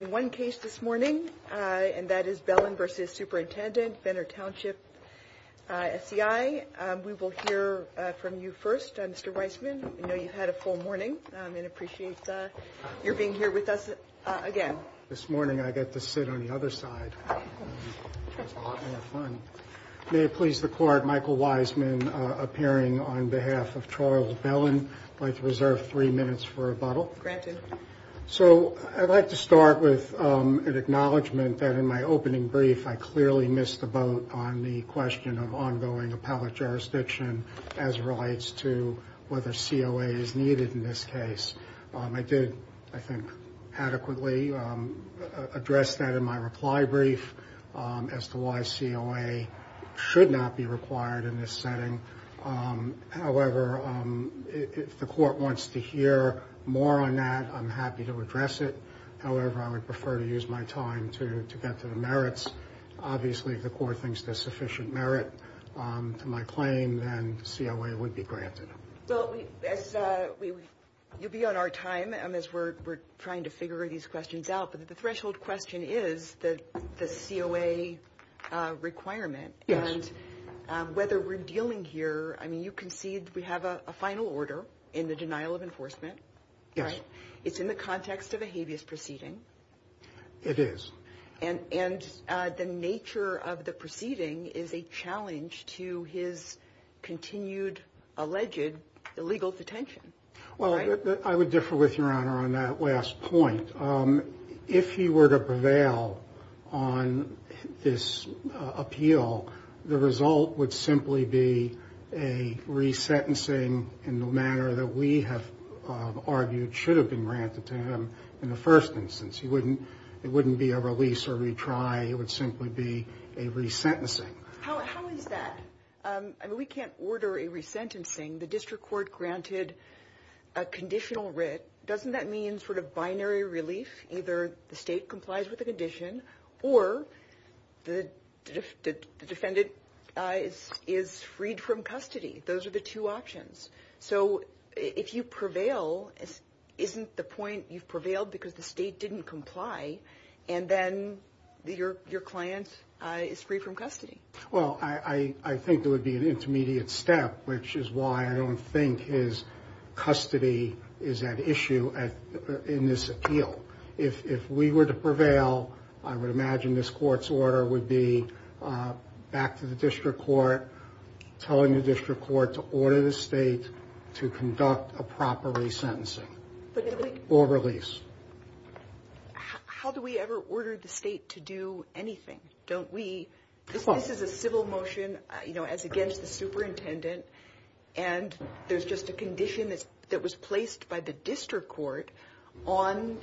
In one case this morning, and that is Bellon v. Superintendent Benner Township SCI, we will hear from you first, Mr. Weisman. I know you've had a full morning and appreciate your being here with us again. This morning I get to sit on the other side. It's a lot more fun. May it please the Court, Michael Weisman appearing on behalf of Charles Bellon. I'd like to reserve three minutes for rebuttal. Granted. So I'd like to start with an acknowledgement that in my opening brief, I clearly missed the boat on the question of ongoing appellate jurisdiction as it relates to whether COA is needed in this case. I did, I think, adequately address that in my reply brief as to why COA should not be required in this setting. However, if the Court wants to hear more on that, I'm happy to address it. However, I would prefer to use my time to get to the merits. Obviously, if the Court thinks there's sufficient merit to my claim, then COA would be granted. You'll be on our time as we're trying to figure these questions out. But the threshold question is the COA requirement and whether we're dealing here. I mean, you concede we have a final order in the denial of enforcement. Yes. It's in the context of a habeas proceeding. It is. And the nature of the proceeding is a challenge to his continued alleged illegal detention. Well, I would differ with Your Honor on that last point. If he were to prevail on this appeal, the result would simply be a resentencing in the manner that we have argued should have been granted to him in the first instance. It wouldn't be a release or retry. It would simply be a resentencing. How is that? I mean, we can't order a resentencing. The District Court granted a conditional writ. Doesn't that mean sort of binary relief? Either the State complies with the condition or the defendant is freed from custody. Those are the two options. So if you prevail, isn't the point you've prevailed because the State didn't comply and then your client is free from custody? Well, I think there would be an intermediate step, which is why I don't think his custody is at issue in this appeal. If we were to prevail, I would imagine this court's order would be back to the District Court, telling the District Court to order the State to conduct a proper resentencing or release. How do we ever order the State to do anything? This is a civil motion as against the superintendent, and there's just a condition that was placed by the District Court on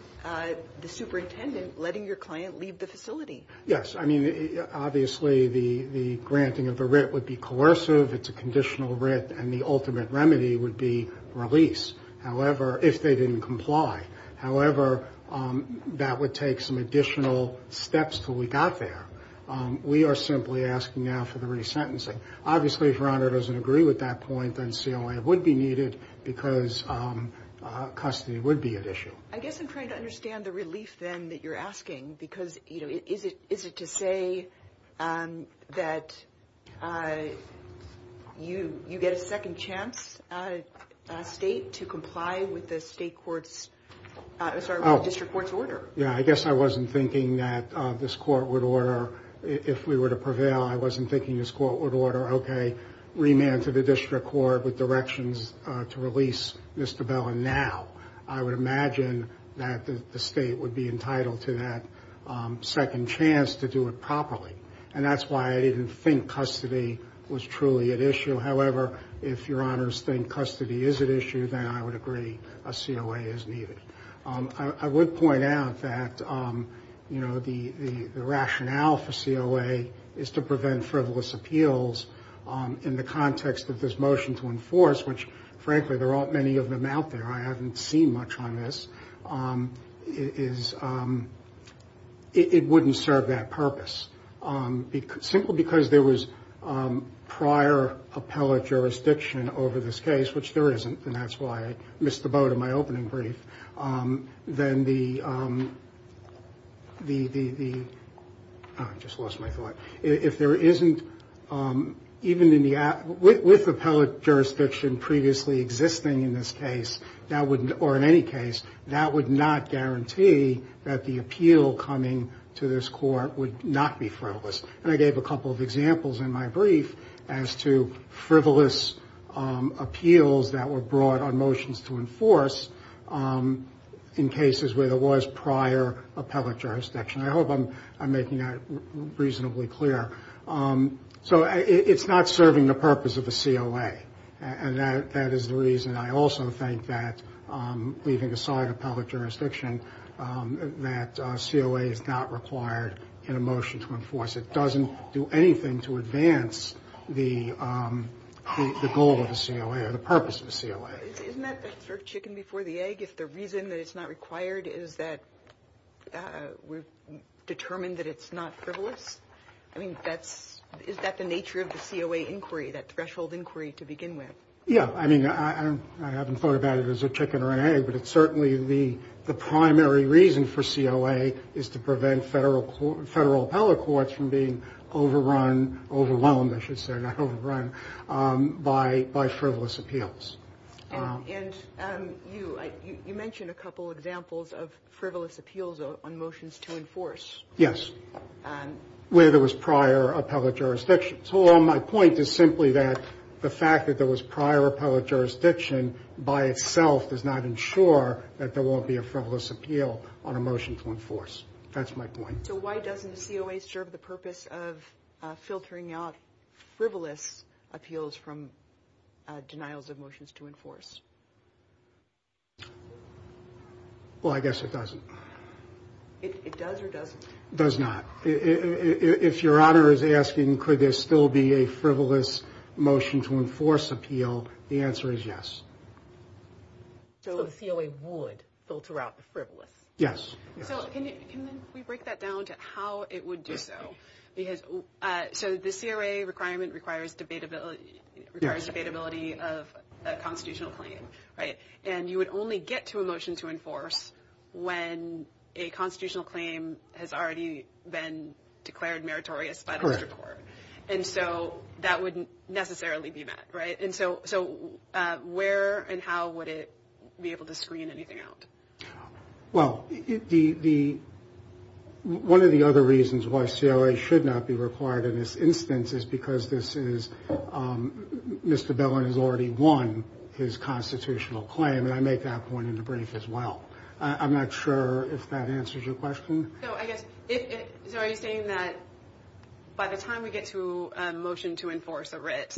the superintendent letting your client leave the facility. Yes. I mean, obviously the granting of the writ would be coercive. It's a conditional writ, and the ultimate remedy would be release if they didn't comply. However, that would take some additional steps until we got there. We are simply asking now for the resentencing. Obviously, if your honor doesn't agree with that point, then COA would be needed because custody would be at issue. I guess I'm trying to understand the relief then that you're asking, because is it to say that you get a second chance, State, to comply with the District Court's order? Yeah, I guess I wasn't thinking that this court would order, if we were to prevail, I wasn't thinking this court would order, okay, remand to the District Court with directions to release Mr. Bellin now. I would imagine that the State would be entitled to that second chance to do it properly, and that's why I didn't think custody was truly at issue. However, if your honors think custody is at issue, then I would agree a COA is needed. I would point out that the rationale for COA is to prevent frivolous appeals in the context of this motion to enforce, which, frankly, there aren't many of them out there. I haven't seen much on this. It wouldn't serve that purpose. Simple because there was prior appellate jurisdiction over this case, which there isn't, and that's why I missed the boat in my opening brief. I just lost my thought. If there isn't, even with appellate jurisdiction previously existing in this case, or in any case, that would not guarantee that the appeal coming to this court would not be frivolous. And I gave a couple of examples in my brief as to frivolous appeals that were brought on motions to enforce in cases where there was prior appellate jurisdiction. I hope I'm making that reasonably clear. So it's not serving the purpose of a COA, and that is the reason I also think that, leaving aside appellate jurisdiction, that COA is not required in a motion to enforce. It doesn't do anything to advance the goal of a COA or the purpose of a COA. Isn't that sort of chicken before the egg, if the reason that it's not required is that we've determined that it's not frivolous? I mean, is that the nature of the COA inquiry, that threshold inquiry to begin with? Yeah, I mean, I haven't thought about it as a chicken or an egg, but it's certainly the primary reason for COA is to prevent federal appellate courts from being overrun, overwhelmed, I should say, not overrun, by frivolous appeals. And you mentioned a couple of examples of frivolous appeals on motions to enforce. Yes, where there was prior appellate jurisdiction. My point is simply that the fact that there was prior appellate jurisdiction by itself does not ensure that there won't be a frivolous appeal on a motion to enforce. That's my point. So why doesn't a COA serve the purpose of filtering out frivolous appeals from denials of motions to enforce? Well, I guess it doesn't. It does or doesn't? It does not. If your honor is asking, could there still be a frivolous motion to enforce appeal? The answer is yes. So the COA would filter out the frivolous? Yes. Can we break that down to how it would do so? So the COA requirement requires debatability of a constitutional claim. And you would only get to a motion to enforce when a constitutional claim has already been declared meritorious by the district court. And so that wouldn't necessarily be met, right? And so where and how would it be able to screen anything out? Well, one of the other reasons why COA should not be required in this instance is because this is Mr. Bellin has already won his constitutional claim. And I make that point in the brief as well. I'm not sure if that answers your question. So are you saying that by the time we get to a motion to enforce a writ,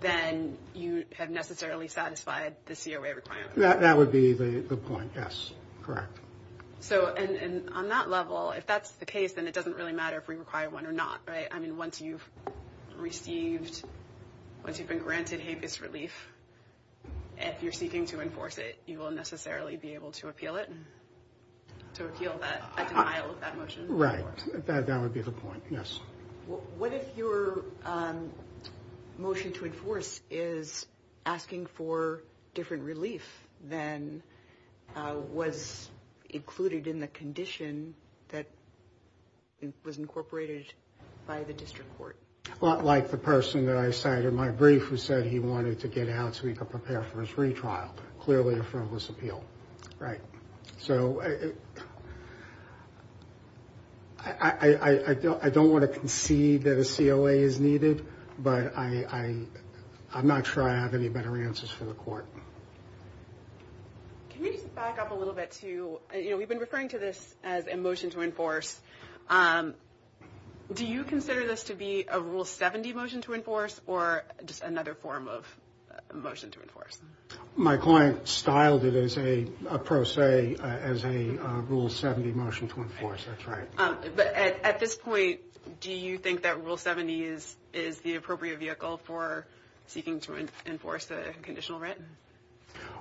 then you have necessarily satisfied the COA requirement? That would be the point. Yes. Correct. So on that level, if that's the case, then it doesn't really matter if we require one or not. Right. I mean, once you've received, once you've been granted habeas relief, if you're seeking to enforce it, you will necessarily be able to appeal it. To appeal that motion. Right. That would be the point. Yes. What if your motion to enforce is asking for different relief than was included in the condition that was incorporated by the district court? Well, like the person that I cited in my brief who said he wanted to get out so he could prepare for his retrial. Clearly a frivolous appeal. Right. So I don't want to concede that a COA is needed, but I'm not sure I have any better answers for the court. Can we just back up a little bit to, you know, we've been referring to this as a motion to enforce. Do you consider this to be a Rule 70 motion to enforce or just another form of motion to enforce? My client styled it as a pro se, as a Rule 70 motion to enforce. That's right. But at this point, do you think that Rule 70 is the appropriate vehicle for seeking to enforce a conditional rent?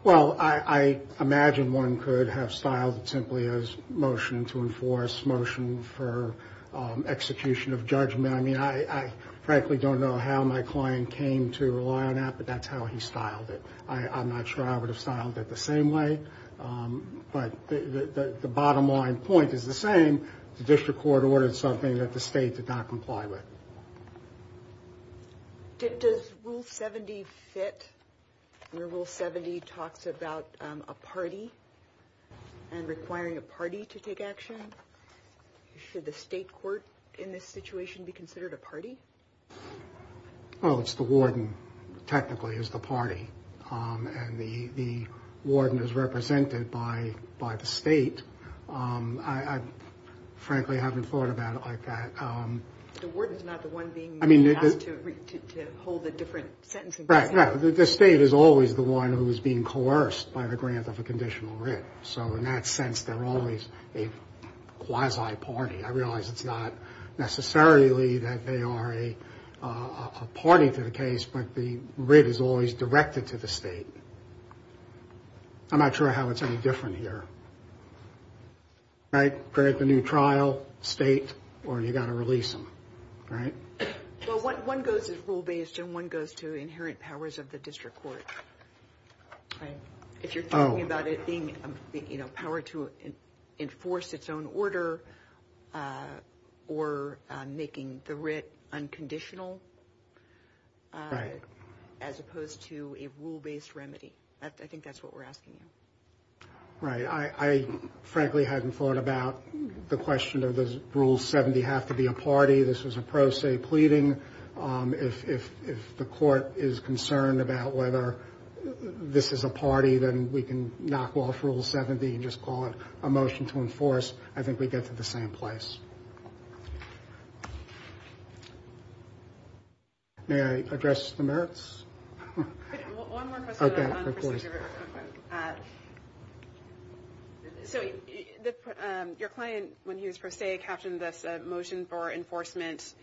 Well, I imagine one could have styled it simply as motion to enforce, motion for execution of judgment. I mean, I frankly don't know how my client came to rely on that, but that's how he styled it. I'm not sure I would have styled it the same way. But the bottom line point is the same. The district court ordered something that the state did not comply with. Does Rule 70 fit where Rule 70 talks about a party and requiring a party to take action? Should the state court in this situation be considered a party? Well, it's the warden, technically, is the party. And the warden is represented by the state. I frankly haven't thought about it like that. The warden is not the one being asked to hold a different sentence. Right, right. The state is always the one who is being coerced by the grant of a conditional rent. So in that sense, they're always a quasi-party. I realize it's not necessarily that they are a party to the case, but the writ is always directed to the state. I'm not sure how it's any different here. Right? Create the new trial, state, or you've got to release them. Right? Well, one goes to rule-based and one goes to inherent powers of the district court. If you're talking about it being a power to enforce its own order or making the writ unconditional as opposed to a rule-based remedy, I think that's what we're asking you. Right. I frankly hadn't thought about the question of does Rule 70 have to be a party. This was a pro se pleading. If the court is concerned about whether this is a party, then we can knock off Rule 70 and just call it a motion to enforce. I think we get to the same place. May I address the merits? One more question. Okay, of course. So your client, when he was pro se, captioned this a motion for enforcement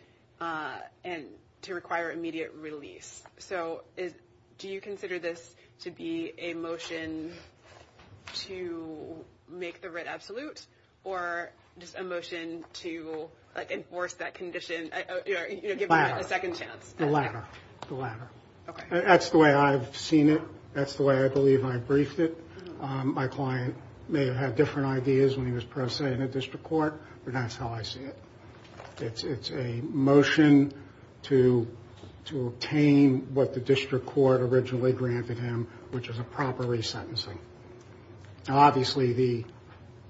to require immediate release. So do you consider this to be a motion to make the writ absolute or just a motion to enforce that condition, give it a second chance? The latter. The latter. The latter. That's the way I've seen it. That's the way I believe I briefed it. My client may have had different ideas when he was pro se in a district court, but that's how I see it. It's a motion to obtain what the district court originally granted him, which is a proper resentencing. Now, obviously,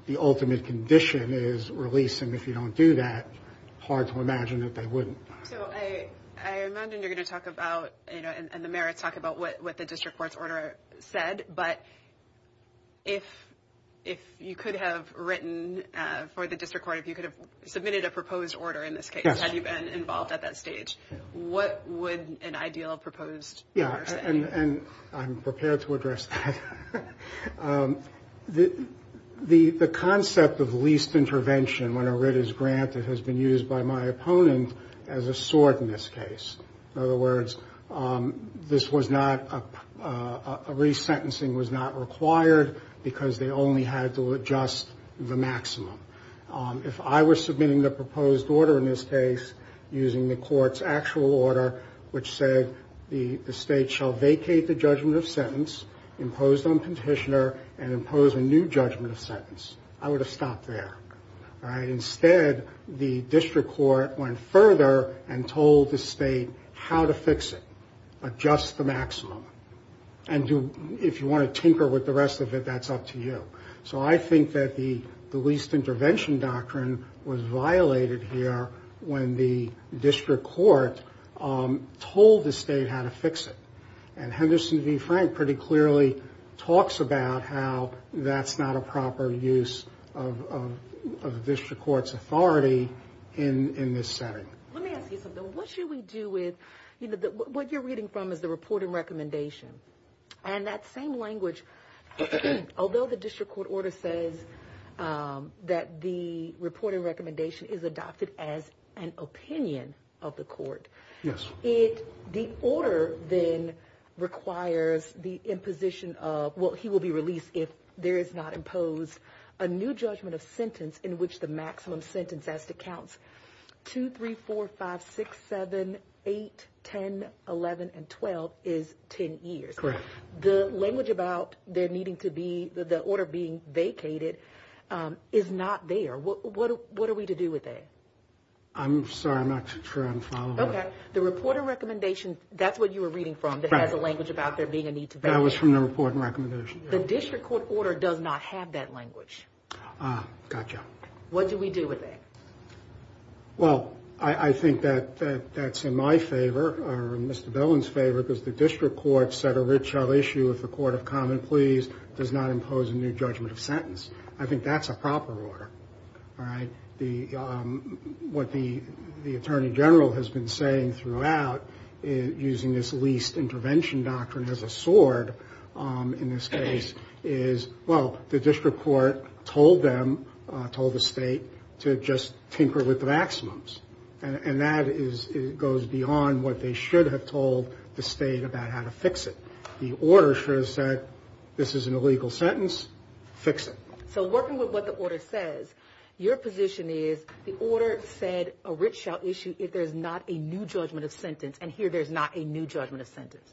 the ultimate condition is release, and if you don't do that, it's hard to imagine that they wouldn't. So I imagine you're going to talk about, you know, and the merits talk about what the district court's order said, but if you could have written for the district court, if you could have submitted a proposed order in this case, had you been involved at that stage, what would an ideal proposed order say? Yeah, and I'm prepared to address that. The concept of least intervention when a writ is granted has been used by my opponent as a sword in this case. In other words, this was not a resentencing was not required because they only had to adjust the maximum. If I were submitting the proposed order in this case using the court's actual order, which said the state shall vacate the judgment of sentence imposed on petitioner and impose a new judgment of sentence, I would have stopped there. Instead, the district court went further and told the state how to fix it, adjust the maximum, and if you want to tinker with the rest of it, that's up to you. So I think that the least intervention doctrine was violated here when the district court told the state how to fix it, and Henderson v. Frank pretty clearly talks about how that's not a proper use of the district court's authority in this setting. Let me ask you something. What should we do with, you know, what you're reading from is the reporting recommendation, and that same language, although the district court order says that the reporting recommendation is adopted as an opinion of the court, the order then requires the imposition of, well, he will be released if there is not imposed a new judgment of sentence in which the maximum sentence as to counts 2, 3, 4, 5, 6, 7, 8, 10, 11, and 12 is 10 years. Correct. The language about there needing to be, the order being vacated is not there. What are we to do with that? I'm sorry, I'm not sure I'm following. Okay. The reporting recommendation, that's what you were reading from, that has a language about there being a need to vacate. That was from the reporting recommendation. The district court order does not have that language. Ah, gotcha. What do we do with it? Well, I think that that's in my favor, or in Mr. Billen's favor, because the district court set a rich hell issue with the court of common pleas, does not impose a new judgment of sentence. I think that's a proper order, all right? What the attorney general has been saying throughout, using this least intervention doctrine as a sword in this case, is, well, the district court told them, told the state, to just tinker with the maximums. And that goes beyond what they should have told the state about how to fix it. The order should have said, this is an illegal sentence, fix it. So working with what the order says, your position is the order said a rich hell issue if there's not a new judgment of sentence, and here there's not a new judgment of sentence.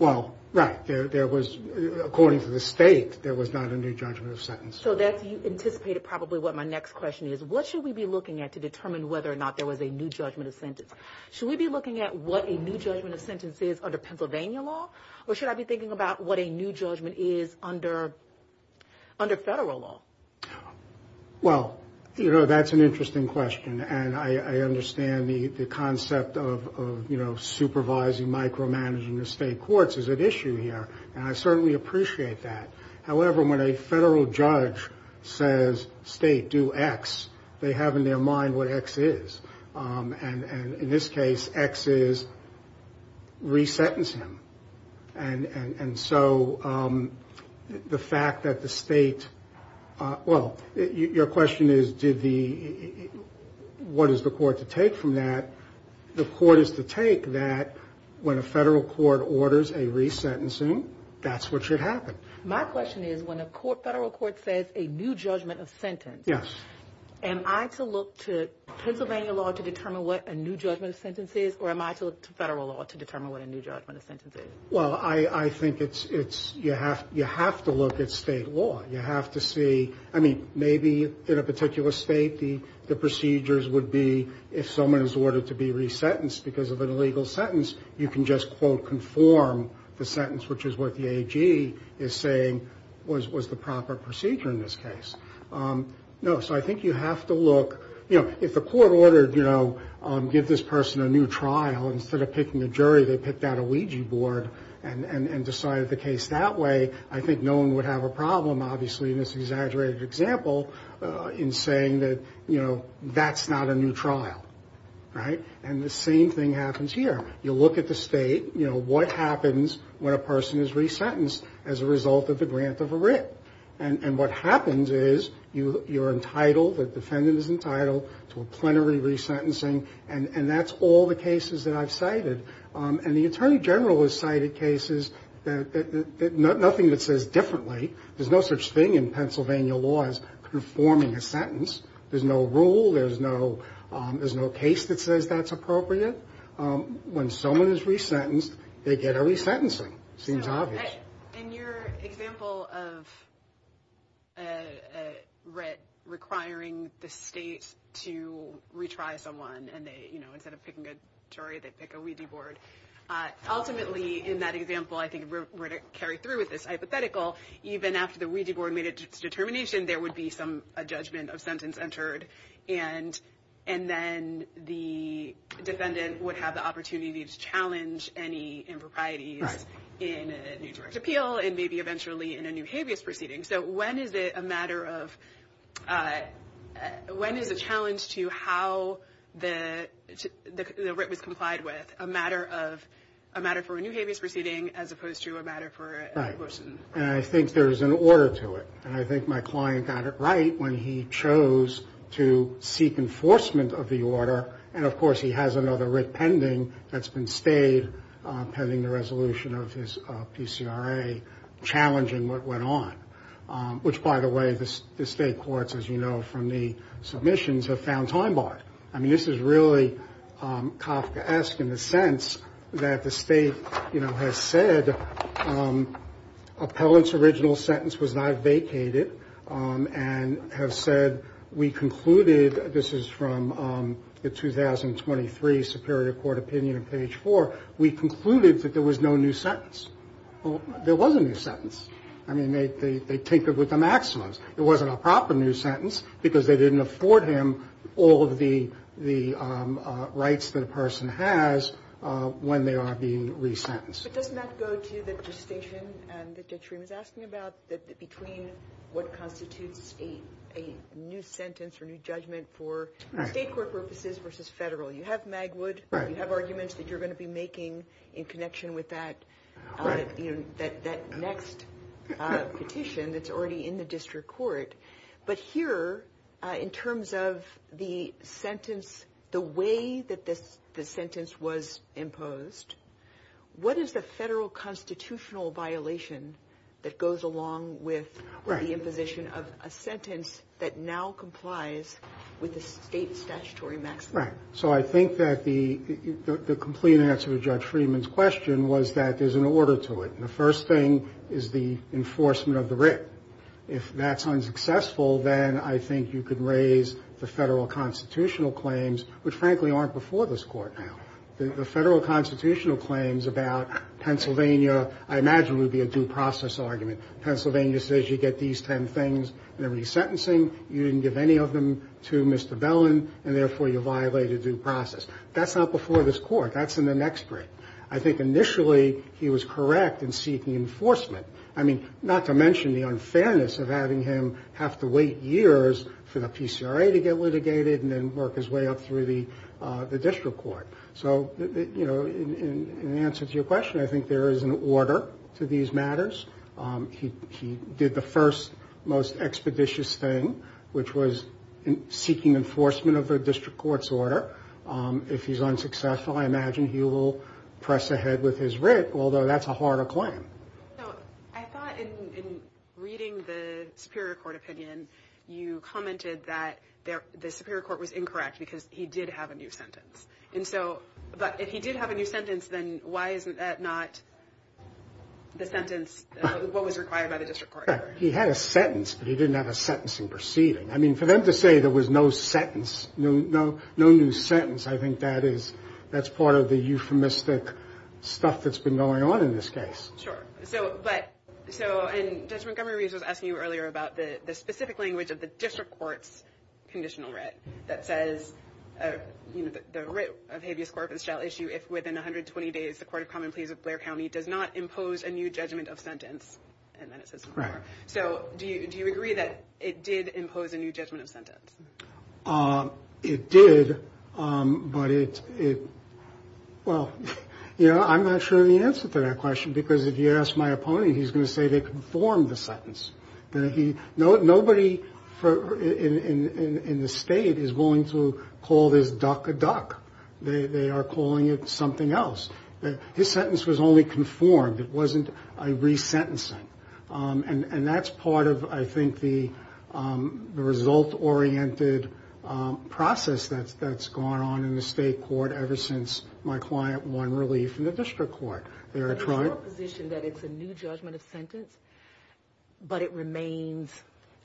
Well, right. According to the state, there was not a new judgment of sentence. So you anticipated probably what my next question is. What should we be looking at to determine whether or not there was a new judgment of sentence? Should we be looking at what a new judgment of sentence is under Pennsylvania law, or should I be thinking about what a new judgment is under federal law? Well, you know, that's an interesting question. And I understand the concept of, you know, supervising micromanaging the state courts is at issue here, and I certainly appreciate that. However, when a federal judge says, state, do X, they have in their mind what X is. And in this case, X is re-sentence him. And so the fact that the state, well, your question is, what is the court to take from that? The court is to take that when a federal court orders a re-sentencing, that's what should happen. My question is, when a federal court says a new judgment of sentence, am I to look to Pennsylvania law to determine what a new judgment of sentence is, or am I to look to federal law to determine what a new judgment of sentence is? Well, I think you have to look at state law. You have to see, I mean, maybe in a particular state the procedures would be, if someone is ordered to be re-sentenced because of an illegal sentence, you can just, quote, conform the sentence, which is what the AG is saying was the proper procedure in this case. No, so I think you have to look. You know, if the court ordered, you know, give this person a new trial, instead of picking a jury, they picked out a Ouija board and decided the case that way, I think no one would have a problem, obviously, in this exaggerated example, in saying that, you know, that's not a new trial, right? And the same thing happens here. You look at the state, you know, what happens when a person is re-sentenced as a result of the grant of a writ. And what happens is you're entitled, the defendant is entitled to a plenary re-sentencing, and that's all the cases that I've cited. And the attorney general has cited cases that nothing that says differently. There's no such thing in Pennsylvania law as conforming a sentence. There's no rule. There's no case that says that's appropriate. When someone is re-sentenced, they get a re-sentencing. It seems obvious. In your example of a writ requiring the state to retry someone, and they, you know, instead of picking a jury, they pick a Ouija board. Ultimately, in that example, I think we're going to carry through with this hypothetical, even after the Ouija board made its determination, there would be a judgment of sentence entered, and then the defendant would have the opportunity to challenge any improprieties in a New Jersey appeal and maybe eventually in a new habeas proceeding. So when is it a matter of, when is a challenge to how the writ was complied with, a matter for a new habeas proceeding as opposed to a matter for a motion? Right. And I think there's an order to it. And I think my client got it right when he chose to seek enforcement of the order. And, of course, he has another writ pending that's been stayed pending the resolution of his PCRA, challenging what went on, which, by the way, the state courts, as you know from the submissions, have found time-barred. I mean, this is really Kafkaesque in the sense that the state, you know, has said appellant's original sentence was not vacated and has said, we concluded, this is from the 2023 Superior Court opinion on page 4, we concluded that there was no new sentence. There was a new sentence. I mean, they tinkered with the maximums. It wasn't a proper new sentence because they didn't afford him all of the rights that a person has when they are being resentenced. But doesn't that go to the gestation that Judge Shreve was asking about, between what constitutes a new sentence or new judgment for state court purposes versus federal? You have Magwood. Right. You have arguments that you're going to be making in connection with that next petition that's already in the district court. But here, in terms of the sentence, the way that the sentence was imposed, what is the federal constitutional violation that goes along with the imposition of a sentence that now complies with the state statutory maximum? Right. So I think that the complete answer to Judge Freeman's question was that there's an order to it. And the first thing is the enforcement of the writ. If that's unsuccessful, then I think you could raise the federal constitutional claims, which, frankly, aren't before this Court now. The federal constitutional claims about Pennsylvania, I imagine, would be a due process argument. Pennsylvania says you get these ten things and they're resentencing. You didn't give any of them to Mr. Bellin, and, therefore, you violate a due process. That's not before this Court. That's in the next break. I think initially he was correct in seeking enforcement. I mean, not to mention the unfairness of having him have to wait years for the PCRA to get litigated and then work his way up through the district court. So, you know, in answer to your question, I think there is an order to these matters. He did the first most expeditious thing, which was seeking enforcement of a district court's order. If he's unsuccessful, I imagine he will press ahead with his writ, although that's a harder claim. So I thought in reading the Superior Court opinion, you commented that the Superior Court was incorrect because he did have a new sentence. But if he did have a new sentence, then why isn't that not the sentence, what was required by the district court? He had a sentence, but he didn't have a sentencing proceeding. I mean, for them to say there was no sentence, no new sentence, I think that's part of the euphemistic stuff that's been going on in this case. Sure. So Judge Montgomery was asking you earlier about the specific language of the district court's conditional writ that says, you know, the writ of habeas corpus shall issue if within 120 days the court of common pleas of Blair County does not impose a new judgment of sentence. And then it says more. So do you agree that it did impose a new judgment of sentence? It did, but it, well, you know, I'm not sure of the answer to that question because if you ask my opponent, he's going to say they conformed the sentence. Nobody in the state is willing to call this duck a duck. They are calling it something else. His sentence was only conformed. It wasn't a resentencing. And that's part of, I think, the result-oriented process that's gone on in the state court ever since my client won relief in the district court. Is it your position that it's a new judgment of sentence, but it remains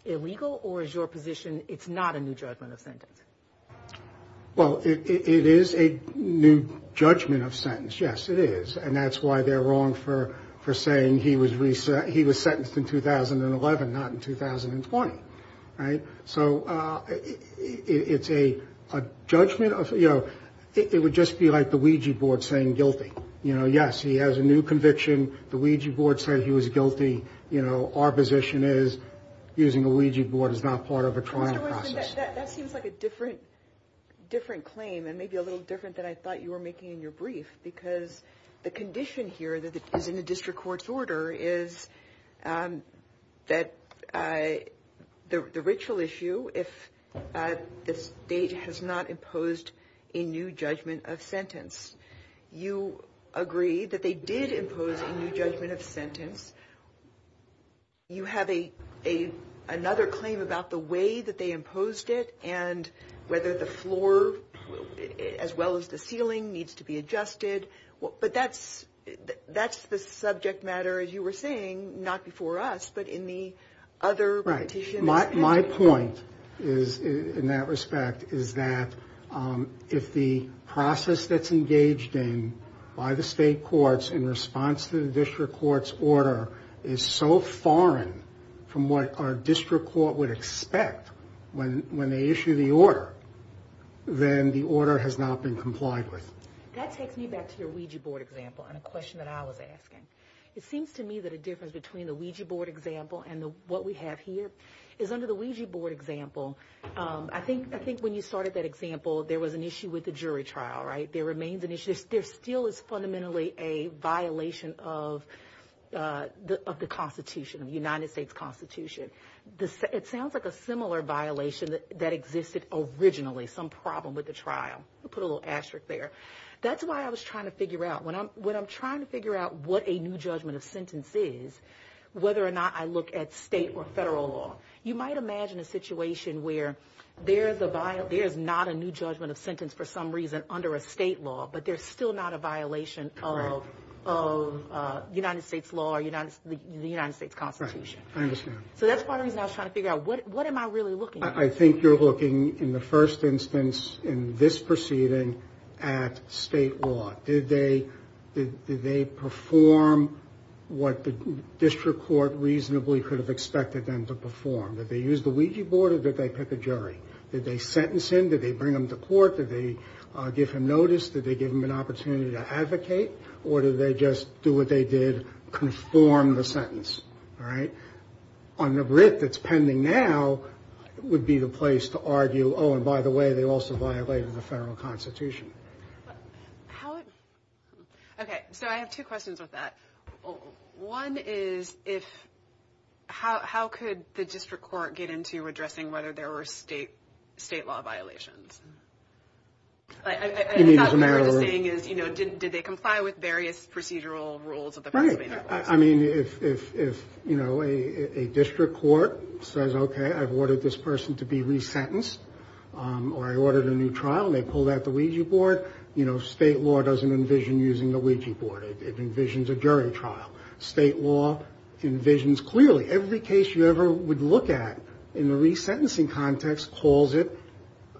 illegal? Or is your position it's not a new judgment of sentence? Well, it is a new judgment of sentence. Yes, it is. And that's why they're wrong for saying he was sentenced in 2011, not in 2020. Right? So it's a judgment of, you know, it would just be like the Ouija board saying guilty. You know, yes, he has a new conviction. The Ouija board said he was guilty. You know, our position is using a Ouija board is not part of a trial process. That seems like a different claim and maybe a little different than I thought you were making in your brief because the condition here that is in the district court's order is that the ritual issue, the state has not imposed a new judgment of sentence. You agree that they did impose a new judgment of sentence. You have another claim about the way that they imposed it and whether the floor as well as the ceiling needs to be adjusted. But that's the subject matter, as you were saying, not before us, but in the other partitions. My point is, in that respect, is that if the process that's engaged in by the state courts in response to the district court's order is so foreign from what our district court would expect when they issue the order, then the order has not been complied with. That takes me back to your Ouija board example and a question that I was asking. It seems to me that a difference between the Ouija board example and what we have here is under the Ouija board example, I think when you started that example, there was an issue with the jury trial, right? There remains an issue. There still is fundamentally a violation of the Constitution, the United States Constitution. It sounds like a similar violation that existed originally, some problem with the trial. I'll put a little asterisk there. That's why I was trying to figure out, when I'm trying to figure out what a new judgment of sentence is, whether or not I look at state or federal law. You might imagine a situation where there is not a new judgment of sentence for some reason under a state law, but there's still not a violation of United States law or the United States Constitution. Right. I understand. So that's part of the reason I was trying to figure out, what am I really looking at? I think you're looking, in the first instance, in this proceeding, at state law. Did they perform what the district court reasonably could have expected them to perform? Did they use the Ouija board or did they pick a jury? Did they sentence him? Did they bring him to court? Did they give him notice? Did they give him an opportunity to advocate? Or did they just do what they did, conform the sentence? On the grit that's pending now would be the place to argue, oh, and by the way, they also violated the federal constitution. Okay. So I have two questions with that. One is, how could the district court get into addressing whether there were state law violations? I thought what you were saying is, did they comply with various procedural rules of the Pennsylvania courts? I mean, if a district court says, okay, I've ordered this person to be resentenced, or I ordered a new trial and they pulled out the Ouija board, state law doesn't envision using the Ouija board. It envisions a jury trial. State law envisions clearly. Every case you ever would look at in the resentencing context calls it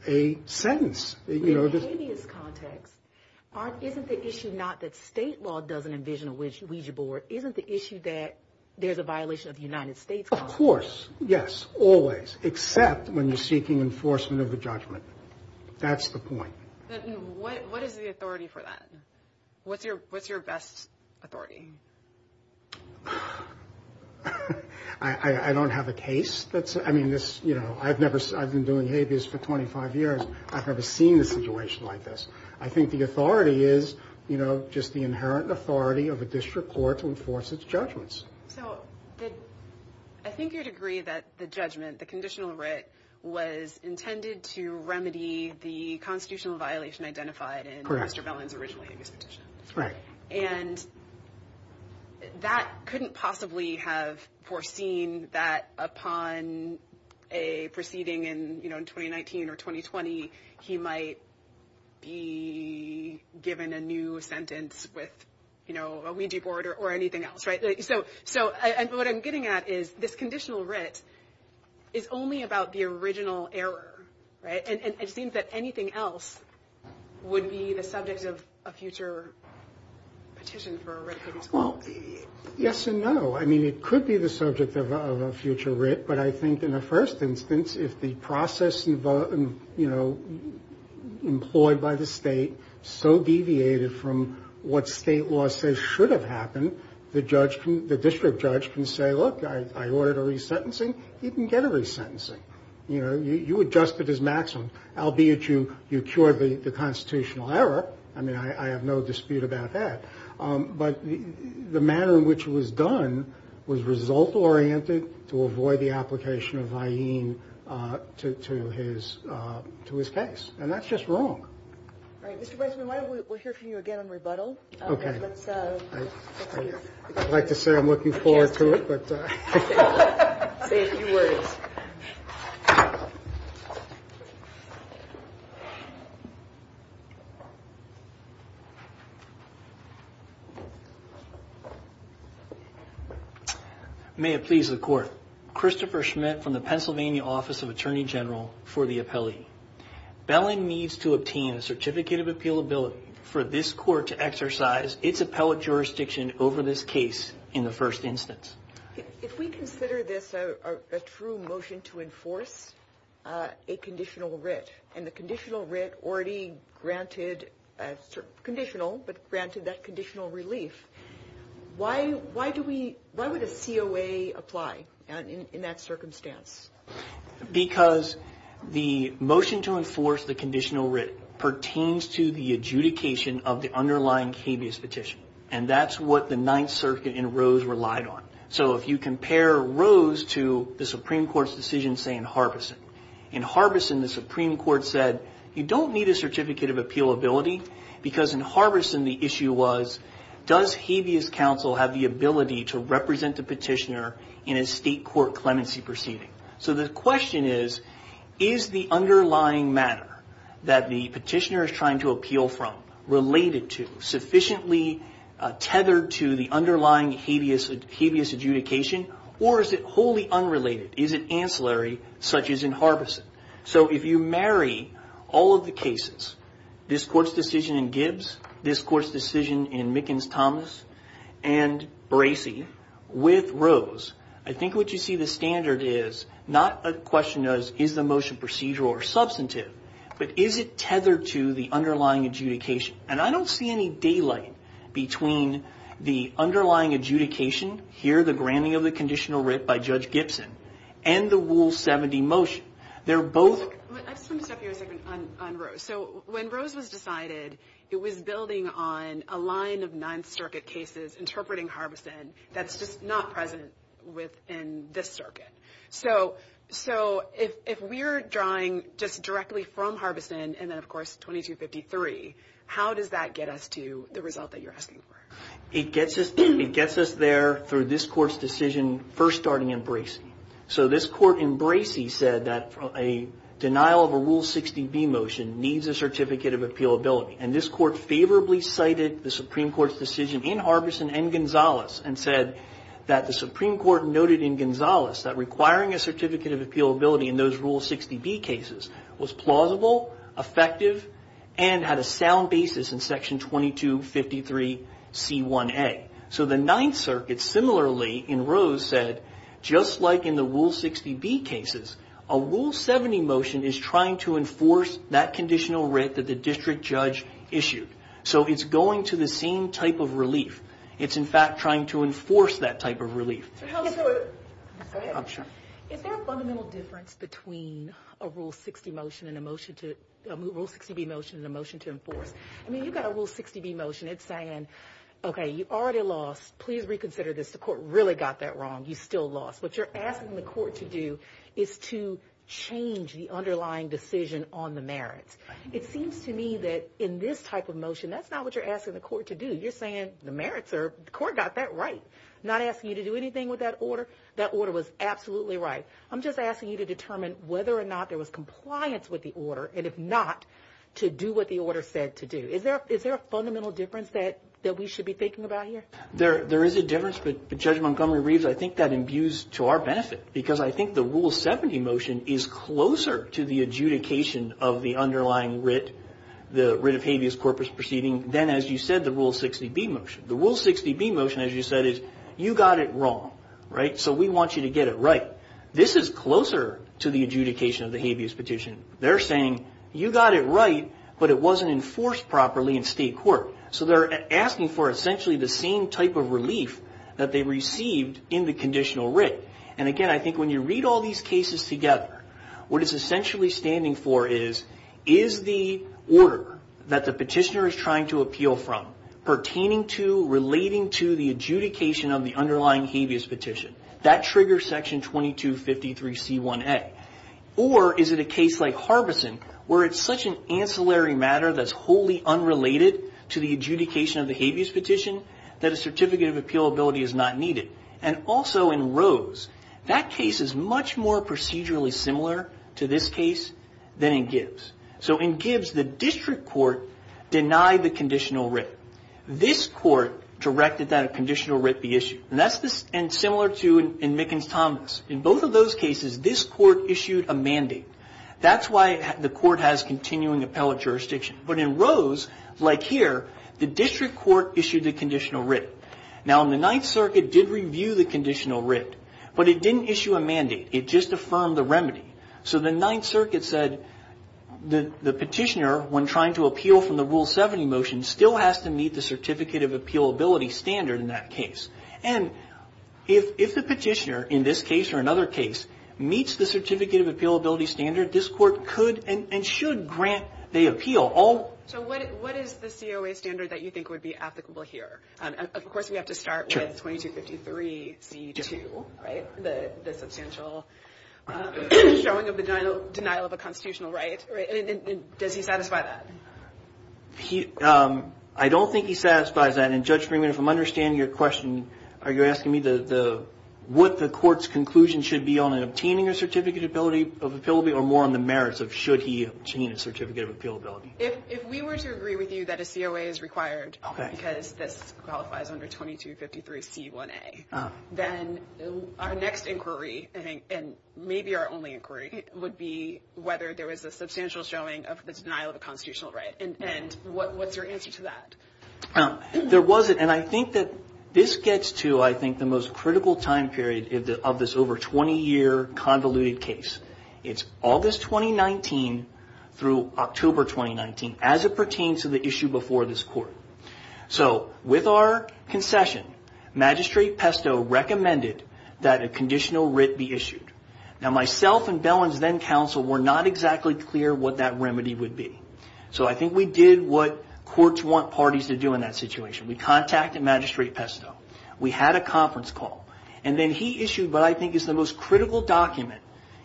a sentence. In a habeas context, isn't the issue not that state law doesn't envision a Ouija board, isn't the issue that there's a violation of the United States constitution? Of course. Yes. Always. Except when you're seeking enforcement of the judgment. That's the point. What is the authority for that? What's your best authority? I don't have a case. I've been doing habeas for 25 years. I've never seen a situation like this. I think the authority is, you know, just the inherent authority of a district court to enforce its judgments. So I think you'd agree that the judgment, the conditional writ, was intended to remedy the constitutional violation identified in Mr. Belin's original habeas petition. Right. And that couldn't possibly have foreseen that upon a proceeding in 2019 or 2020, he might be given a new sentence with, you know, a Ouija board or anything else. Right. So. So what I'm getting at is this conditional writ is only about the original error. Right. And it seems that anything else would be the subject of a future petition. Well, yes and no. I mean, it could be the subject of a future writ. But I think in the first instance, if the process, you know, employed by the state so deviated from what state law says should have happened, the judge, the district judge can say, look, I ordered a resentencing. You can get a resentencing. You know, you adjusted as maximum, albeit you cured the constitutional error. I mean, I have no dispute about that. But the manner in which it was done was result-oriented to avoid the application of Hyene to his case. And that's just wrong. All right. Mr. Weissman, why don't we hear from you again on rebuttal. Okay. I'd like to say I'm looking forward to it. Say a few words. Yes. May it please the court. Christopher Schmidt from the Pennsylvania Office of Attorney General for the Appellee. Belling needs to obtain a certificate of appealability for this court to exercise its appellate jurisdiction over this case in the first instance. If we consider this a true motion to enforce a conditional writ and the conditional writ already granted, conditional, but granted that conditional relief, why do we, why would a COA apply in that circumstance? Because the motion to enforce the conditional writ pertains to the adjudication of the underlying habeas petition. And that's what the Ninth Circuit in Rose relied on. So if you compare Rose to the Supreme Court's decision, say, in Harbeson, in Harbeson the Supreme Court said you don't need a certificate of appealability because in Harbeson the issue was does habeas counsel have the ability to represent the petitioner in a state court clemency proceeding. So the question is, is the underlying matter that the petitioner is trying to appeal from related to, sufficiently tethered to the underlying habeas adjudication, or is it wholly unrelated? Is it ancillary such as in Harbeson? So if you marry all of the cases, this court's decision in Gibbs, this court's decision in Mickens-Thomas, and Bracey with Rose, I think what you see the standard is not a question of is the motion procedural or substantive, but is it tethered to the underlying adjudication? And I don't see any daylight between the underlying adjudication, here the granting of the conditional writ by Judge Gibson, and the Rule 70 motion. They're both. I just want to step here a second on Rose. So when Rose was decided, it was building on a line of Ninth Circuit cases interpreting Harbeson that's just not present within this circuit. So if we're drawing just directly from Harbeson and then, of course, 2253, how does that get us to the result that you're asking for? It gets us there through this court's decision first starting in Bracey. So this court in Bracey said that a denial of a Rule 60B motion needs a certificate of appealability. And this court favorably cited the Supreme Court's decision in Harbeson and Gonzales and said that the Supreme Court noted in Gonzales that requiring a certificate of appealability in those Rule 60B cases was plausible, effective, and had a sound basis in Section 2253C1A. So the Ninth Circuit similarly in Rose said, just like in the Rule 60B cases, a Rule 70 motion is trying to enforce that conditional writ that the district judge issued. So it's going to the same type of relief. Go ahead. Is there a fundamental difference between a Rule 60B motion and a motion to enforce? I mean, you've got a Rule 60B motion. It's saying, okay, you already lost. Please reconsider this. The court really got that wrong. You still lost. What you're asking the court to do is to change the underlying decision on the merits. It seems to me that in this type of motion, that's not what you're asking the court to do. You're saying the merits are the court got that right. I'm not asking you to do anything with that order. That order was absolutely right. I'm just asking you to determine whether or not there was compliance with the order, and if not, to do what the order said to do. Is there a fundamental difference that we should be thinking about here? There is a difference, but Judge Montgomery-Reeves, I think that imbues to our benefit because I think the Rule 70 motion is closer to the adjudication of the underlying writ, the writ of habeas corpus proceeding, than, as you said, the Rule 60B motion. The Rule 60B motion, as you said, is you got it wrong. We want you to get it right. This is closer to the adjudication of the habeas petition. They're saying you got it right, but it wasn't enforced properly in state court. They're asking for essentially the same type of relief that they received in the conditional writ. Again, I think when you read all these cases together, what it's essentially standing for is is the order that the petitioner is trying to appeal from pertaining to, relating to the adjudication of the underlying habeas petition. That triggers Section 2253C1A. Or is it a case like Harbeson where it's such an ancillary matter that's wholly unrelated to the adjudication of the habeas petition that a certificate of appealability is not needed? And also in Rose, that case is much more procedurally similar to this case than in Gibbs. So in Gibbs, the district court denied the conditional writ. This court directed that a conditional writ be issued. And that's similar to in Mickens-Thomas. In both of those cases, this court issued a mandate. That's why the court has continuing appellate jurisdiction. But in Rose, like here, the district court issued the conditional writ. Now, the Ninth Circuit did review the conditional writ, but it didn't issue a mandate. It just affirmed the remedy. So the Ninth Circuit said the petitioner, when trying to appeal from the Rule 70 motion, still has to meet the certificate of appealability standard in that case. And if the petitioner in this case or another case meets the certificate of appealability standard, this court could and should grant the appeal. So what is the COA standard that you think would be applicable here? Of course, we have to start with 2253C2, right, the substantial showing of the denial of a constitutional writ. Does he satisfy that? I don't think he satisfies that. And, Judge Freeman, if I'm understanding your question, are you asking me what the court's conclusion should be on obtaining a certificate of appealability or more on the merits of should he obtain a certificate of appealability? If we were to agree with you that a COA is required because this qualifies under 2253C1A, then our next inquiry, and maybe our only inquiry, would be whether there was a substantial showing of the denial of a constitutional writ. And what's your answer to that? There wasn't. And I think that this gets to, I think, the most critical time period of this over 20-year convoluted case. It's August 2019 through October 2019 as it pertains to the issue before this court. So with our concession, Magistrate Pesto recommended that a conditional writ be issued. Now myself and Bellin's then counsel were not exactly clear what that remedy would be. So I think we did what courts want parties to do in that situation. We contacted Magistrate Pesto. We had a conference call. And then he issued what I think is the most critical document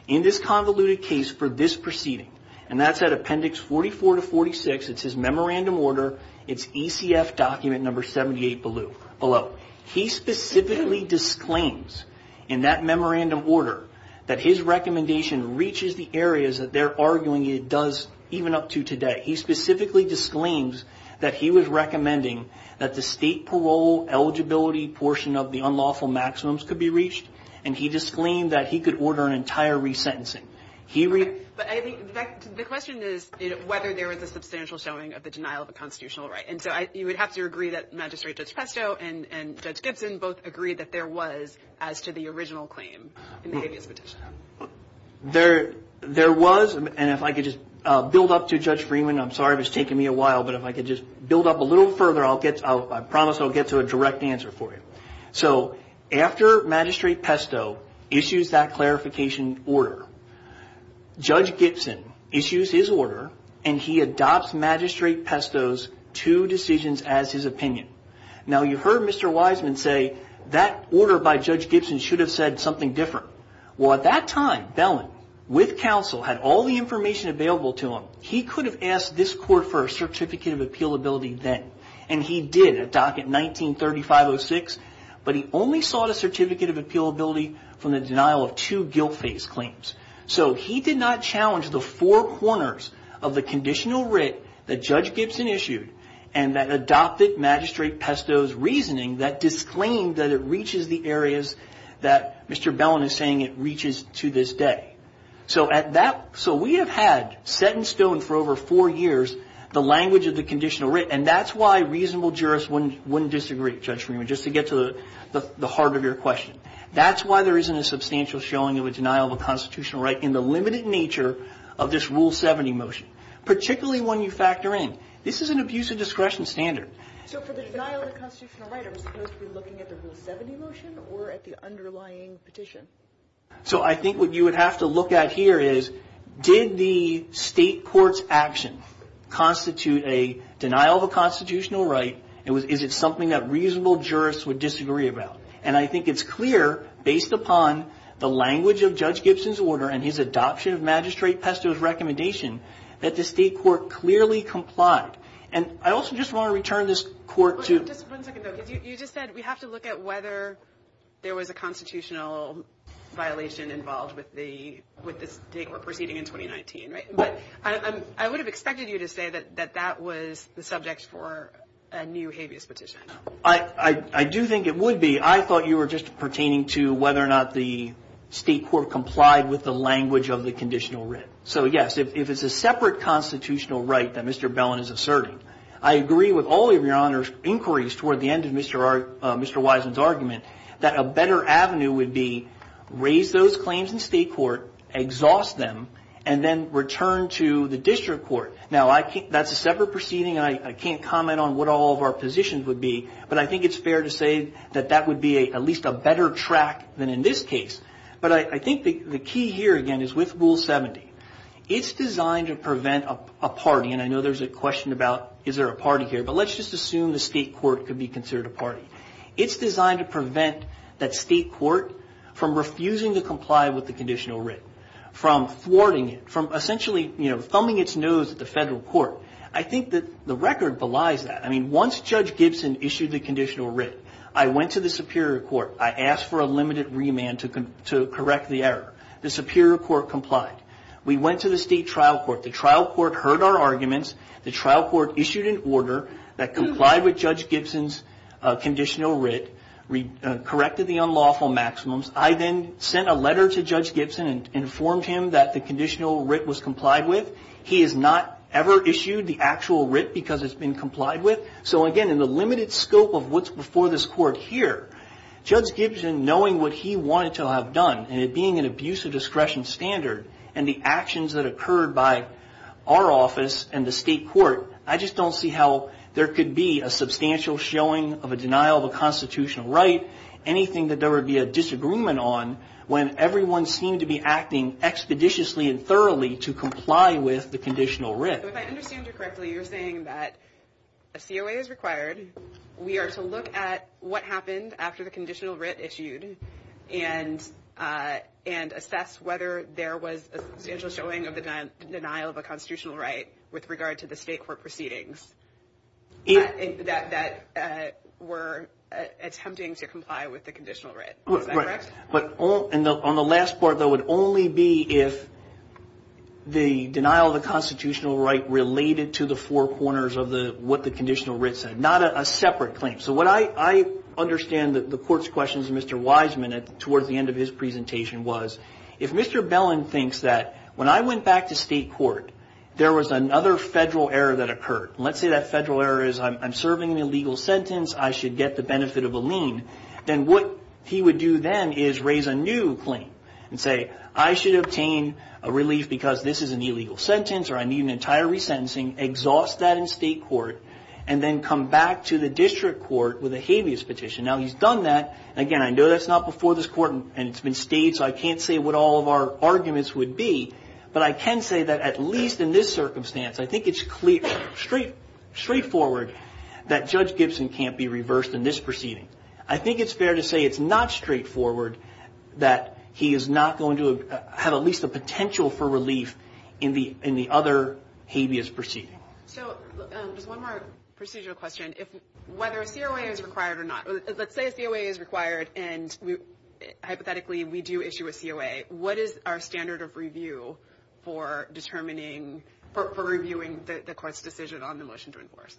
in this convoluted case for this proceeding, and that's at Appendix 44 to 46. It's his memorandum order. It's ECF document number 78 below. He specifically disclaims in that memorandum order that his recommendation reaches the areas that they're arguing it does even up to today. He specifically disclaims that he was recommending that the state parole eligibility portion of the unlawful maximums could be reached, and he disclaimed that he could order an entire resentencing. But I think the question is whether there was a substantial showing of the denial of a constitutional right. And so you would have to agree that Magistrate Pesto and Judge Gibson both agreed that there was as to the original claim in the habeas petition. There was, and if I could just build up to Judge Freeman, I'm sorry if it's taking me a while, but if I could just build up a little further, I promise I'll get to a direct answer for you. So after Magistrate Pesto issues that clarification order, Judge Gibson issues his order, and he adopts Magistrate Pesto's two decisions as his opinion. Now, you heard Mr. Wiseman say that order by Judge Gibson should have said something different. Well, at that time, Bellin, with counsel, had all the information available to him. He could have asked this court for a certificate of appealability then, and he did at docket 19-3506, but he only sought a certificate of appealability from the denial of two guilt-face claims. So he did not challenge the four corners of the conditional writ that Judge Gibson issued and that adopted Magistrate Pesto's reasoning that disclaimed that it reaches the areas that Mr. Bellin is saying it reaches to this day. So we have had set in stone for over four years the language of the conditional writ, and that's why reasonable jurists wouldn't disagree, Judge Freeman, just to get to the heart of your question. That's why there isn't a substantial showing of a denial of a constitutional right in the limited nature of this Rule 70 motion, particularly when you factor in. This is an abuse of discretion standard. So for the denial of a constitutional right, are we supposed to be looking at the Rule 70 motion or at the underlying petition? So I think what you would have to look at here is did the state court's action constitute a denial of a constitutional right, and is it something that reasonable jurists would disagree about? And I think it's clear, based upon the language of Judge Gibson's order and his adoption of Magistrate Pesto's recommendation, that the state court clearly complied. And I also just want to return this court to – Just one second, though, because you just said we have to look at whether there was a constitutional violation involved with the state court proceeding in 2019, right? But I would have expected you to say that that was the subject for a new habeas petition. I do think it would be. I thought you were just pertaining to whether or not the state court complied with the language of the conditional writ. So, yes, if it's a separate constitutional right that Mr. Bellin is asserting, I agree with all of your inquiries toward the end of Mr. Wiseman's argument that a better avenue would be raise those claims in state court, exhaust them, and then return to the district court. Now, that's a separate proceeding, and I can't comment on what all of our positions would be, but I think it's fair to say that that would be at least a better track than in this case. But I think the key here, again, is with Rule 70. It's designed to prevent a party, and I know there's a question about is there a party here, but let's just assume the state court could be considered a party. It's designed to prevent that state court from refusing to comply with the conditional writ, from thwarting it, from essentially thumbing its nose at the federal court. I think that the record belies that. I mean, once Judge Gibson issued the conditional writ, I went to the superior court. I asked for a limited remand to correct the error. The superior court complied. We went to the state trial court. The trial court heard our arguments. The trial court issued an order that complied with Judge Gibson's conditional writ, corrected the unlawful maximums. I then sent a letter to Judge Gibson and informed him that the conditional writ was complied with. He has not ever issued the actual writ because it's been complied with. So, again, in the limited scope of what's before this court here, Judge Gibson, knowing what he wanted to have done, and it being an abuse of discretion standard, and the actions that occurred by our office and the state court, I just don't see how there could be a substantial showing of a denial of a constitutional right, anything that there would be a disagreement on when everyone seemed to be acting expeditiously and thoroughly to comply with the conditional writ. If I understand you correctly, you're saying that a COA is required. We are to look at what happened after the conditional writ issued and assess whether there was a substantial showing of the denial of a constitutional right with regard to the state court proceedings that were attempting to comply with the conditional writ. Is that correct? Right. On the last part, though, it would only be if the denial of a constitutional right related to the four corners of what the conditional writ said, not a separate claim. So what I understand the court's question to Mr. Wiseman towards the end of his presentation was, if Mr. Bellin thinks that when I went back to state court, there was another federal error that occurred, and let's say that federal error is I'm serving an illegal sentence, I should get the benefit of a lien, then what he would do then is raise a new claim and say, I should obtain a relief because this is an illegal sentence or I need an entire resentencing, exhaust that in state court, and then come back to the district court with a habeas petition. Now, he's done that, and again, I know that's not before this court, and it's been stayed so I can't say what all of our arguments would be, but I can say that at least in this circumstance, I think it's straightforward that Judge Gibson can't be reversed in this proceeding. I think it's fair to say it's not straightforward that he is not going to have at least a potential for relief in the other habeas proceeding. So just one more procedural question. Whether a COA is required or not. Let's say a COA is required, and hypothetically, we do issue a COA. What is our standard of review for determining, for reviewing the court's decision on the motion to enforce?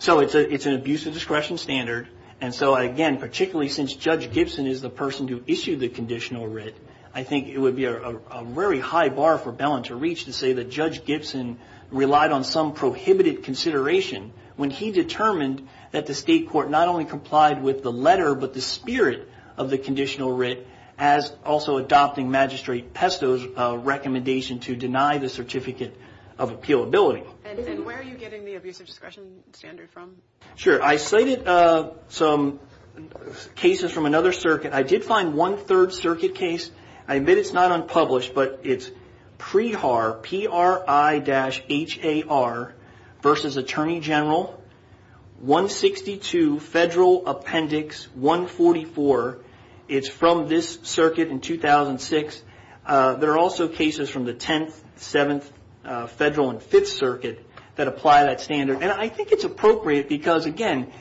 So it's an abuse of discretion standard, and so again, particularly since Judge Gibson is the person to issue the conditional writ, I think it would be a very high bar for Bellin to reach to say that Judge Gibson relied on some prohibited consideration when he determined that the state court not only complied with the letter but the spirit of the conditional writ as also adopting Magistrate Pesto's recommendation to deny the certificate of appealability. And where are you getting the abuse of discretion standard from? Sure. I cited some cases from another circuit. I did find one third circuit case. I admit it's not unpublished, but it's PRI-HAR versus Attorney General 162 Federal Appendix 144. It's from this circuit in 2006. There are also cases from the 10th, 7th Federal, and 5th Circuit that apply that standard. And I think it's appropriate because, again,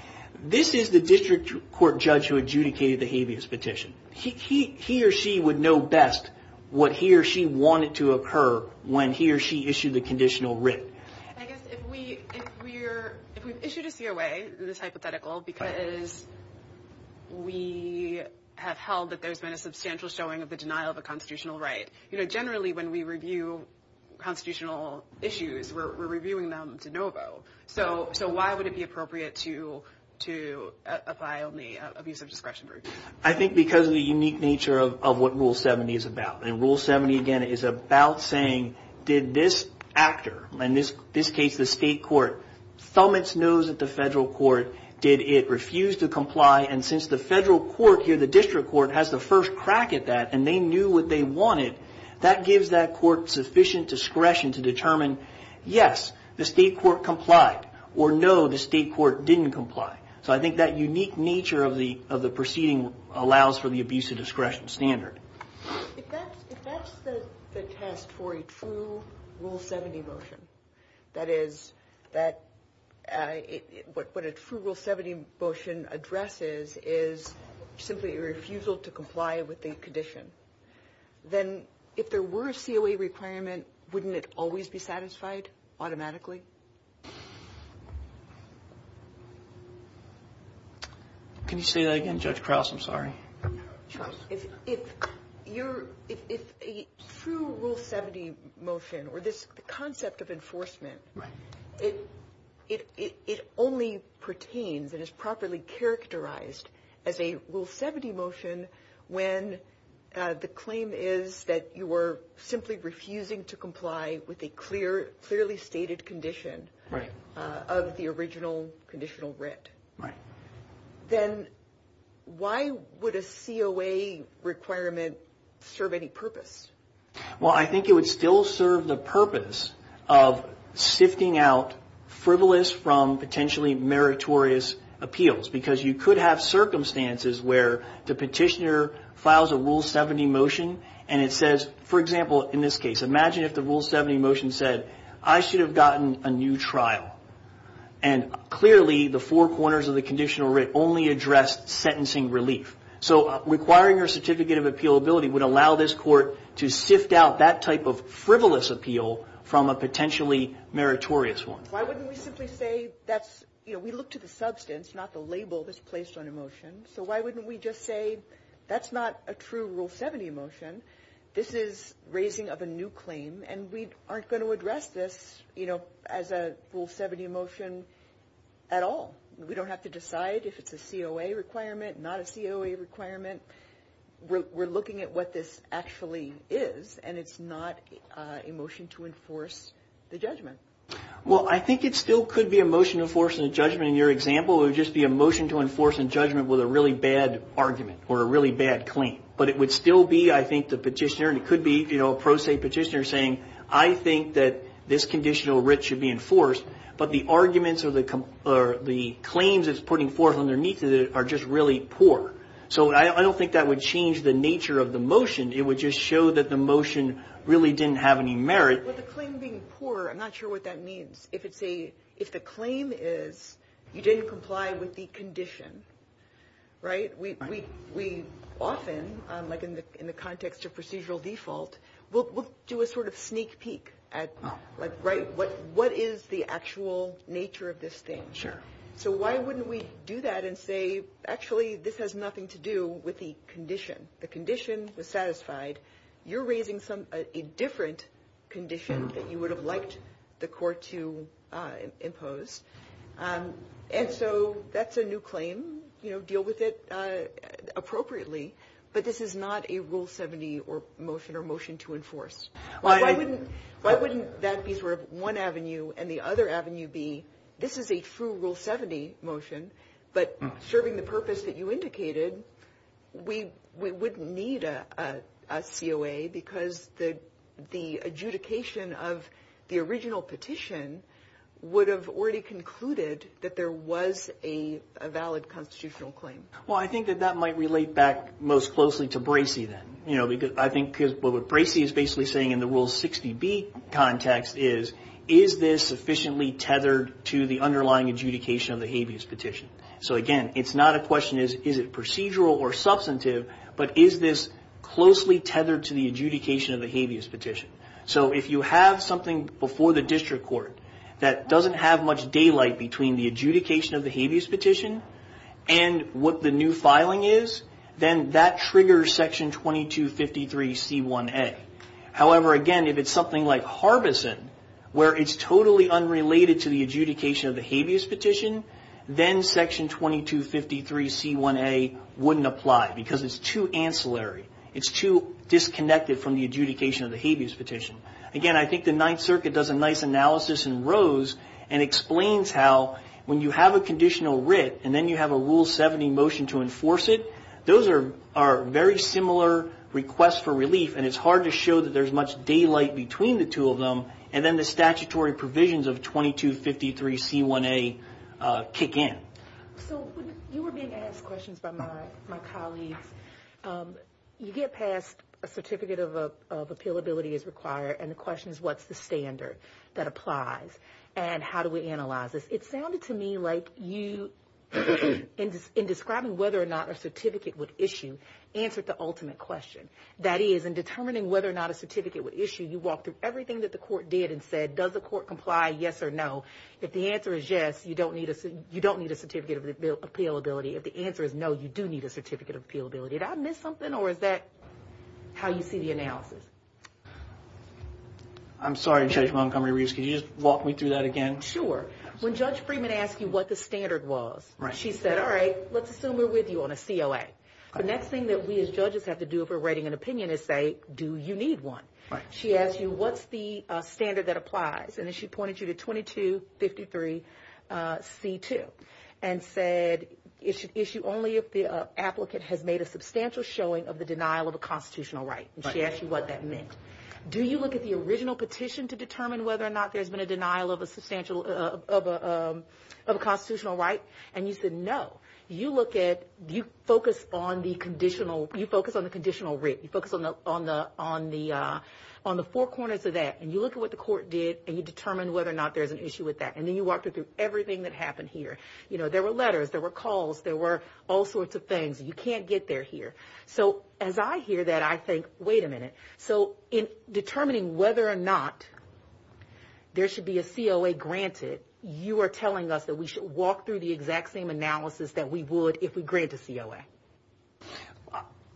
this is the district court judge who adjudicated the habeas petition. He or she would know best what he or she wanted to occur when he or she issued the conditional writ. I guess if we've issued a COA, it's hypothetical because we have held that there's been a substantial showing of the denial of a constitutional right. Generally, when we review constitutional issues, we're reviewing them to know about. So why would it be appropriate to apply only abuse of discretion? I think because of the unique nature of what Rule 70 is about. And Rule 70, again, is about saying, did this actor, in this case the state court, thumb its nose at the federal court? Did it refuse to comply? And since the federal court here, the district court, has the first crack at that and they knew what they wanted, that gives that court sufficient discretion to determine, yes, the state court complied, or no, the state court didn't comply. So I think that unique nature of the proceeding allows for the abuse of discretion standard. If that's the test for a true Rule 70 motion, that is, what a true Rule 70 motion addresses is simply a refusal to comply with the condition, then if there were a COA requirement, wouldn't it always be satisfied automatically? Can you say that again, Judge Krause? I'm sorry. If a true Rule 70 motion or this concept of enforcement, it only pertains and is properly characterized as a Rule 70 motion when the claim is that you were simply refusing to comply with a clearly stated condition of the original conditional writ, then why would a COA requirement serve any purpose? Well, I think it would still serve the purpose of sifting out frivolous from potentially meritorious appeals because you could have circumstances where the petitioner files a Rule 70 motion and it says, for example, in this case, imagine if the Rule 70 motion said, I should have gotten a new trial. And clearly, the four corners of the conditional writ only addressed sentencing relief. So requiring your certificate of appealability would allow this court to sift out that type of frivolous appeal from a potentially meritorious one. Why wouldn't we simply say that's, you know, we look to the substance, not the label that's placed on a motion. So why wouldn't we just say, that's not a true Rule 70 motion. This is raising of a new claim, and we aren't going to address this, you know, as a Rule 70 motion at all. We don't have to decide if it's a COA requirement, not a COA requirement. We're looking at what this actually is, and it's not a motion to enforce the judgment. Well, I think it still could be a motion to enforce a judgment in your example. It would just be a motion to enforce a judgment with a really bad argument or a really bad claim. But it would still be, I think, the petitioner, and it could be, you know, a pro se petitioner saying, I think that this conditional writ should be enforced, but the arguments or the claims it's putting forth underneath it are just really poor. So I don't think that would change the nature of the motion. It would just show that the motion really didn't have any merit. Well, the claim being poor, I'm not sure what that means. If the claim is you didn't comply with the condition, right? We often, like in the context of procedural default, we'll do a sort of sneak peek at, like, right, what is the actual nature of this thing? Sure. So why wouldn't we do that and say, actually, this has nothing to do with the condition? The condition was satisfied. You're raising a different condition that you would have liked the court to impose. And so that's a new claim. You know, deal with it appropriately. But this is not a Rule 70 motion or motion to enforce. Why wouldn't that be sort of one avenue and the other avenue be, this is a true Rule 70 motion, but serving the purpose that you indicated, we wouldn't need a COA because the adjudication of the original petition would have already concluded that there was a valid constitutional claim. Well, I think that that might relate back most closely to Bracey then. You know, I think what Bracey is basically saying in the Rule 60B context is, is this sufficiently tethered to the underlying adjudication of the habeas petition? So, again, it's not a question is, is it procedural or substantive, but is this closely tethered to the adjudication of the habeas petition? So if you have something before the district court that doesn't have much daylight between the adjudication of the habeas petition and what the new filing is, then that triggers Section 2253C1A. However, again, if it's something like Harbison where it's totally unrelated to the adjudication of the habeas petition, then Section 2253C1A wouldn't apply because it's too ancillary. It's too disconnected from the adjudication of the habeas petition. Again, I think the Ninth Circuit does a nice analysis in Rose and explains how when you have a conditional writ and then you have a Rule 70 motion to enforce it, those are very similar requests for relief, and it's hard to show that there's much daylight between the two of them, and then the statutory provisions of 2253C1A kick in. So you were being asked questions by my colleagues. You get past a certificate of appealability is required, and the question is what's the standard that applies, and how do we analyze this? It sounded to me like you, in describing whether or not a certificate would issue, answered the ultimate question. That is, in determining whether or not a certificate would issue, you walked through everything that the court did and said, does the court comply, yes or no? If the answer is yes, you don't need a certificate of appealability. If the answer is no, you do need a certificate of appealability. Did I miss something, or is that how you see the analysis? I'm sorry, Judge Montgomery-Reeves. Could you just walk me through that again? Sure. When Judge Freeman asked you what the standard was, she said, all right, let's assume we're with you on a COA. The next thing that we as judges have to do if we're writing an opinion is say, do you need one? She asked you what's the standard that applies, and then she pointed you to 2253C2 and said, issue only if the applicant has made a substantial showing of the denial of a constitutional right, and she asked you what that meant. Do you look at the original petition to determine whether or not there's been a denial of a constitutional right? And you said no. You focus on the conditional writ. You focus on the four corners of that, and you look at what the court did, and you determine whether or not there's an issue with that, and then you walked her through everything that happened here. There were letters. There were calls. There were all sorts of things. You can't get there here. So as I hear that, I think, wait a minute, so in determining whether or not there should be a COA granted, you are telling us that we should walk through the exact same analysis that we would if we grant a COA.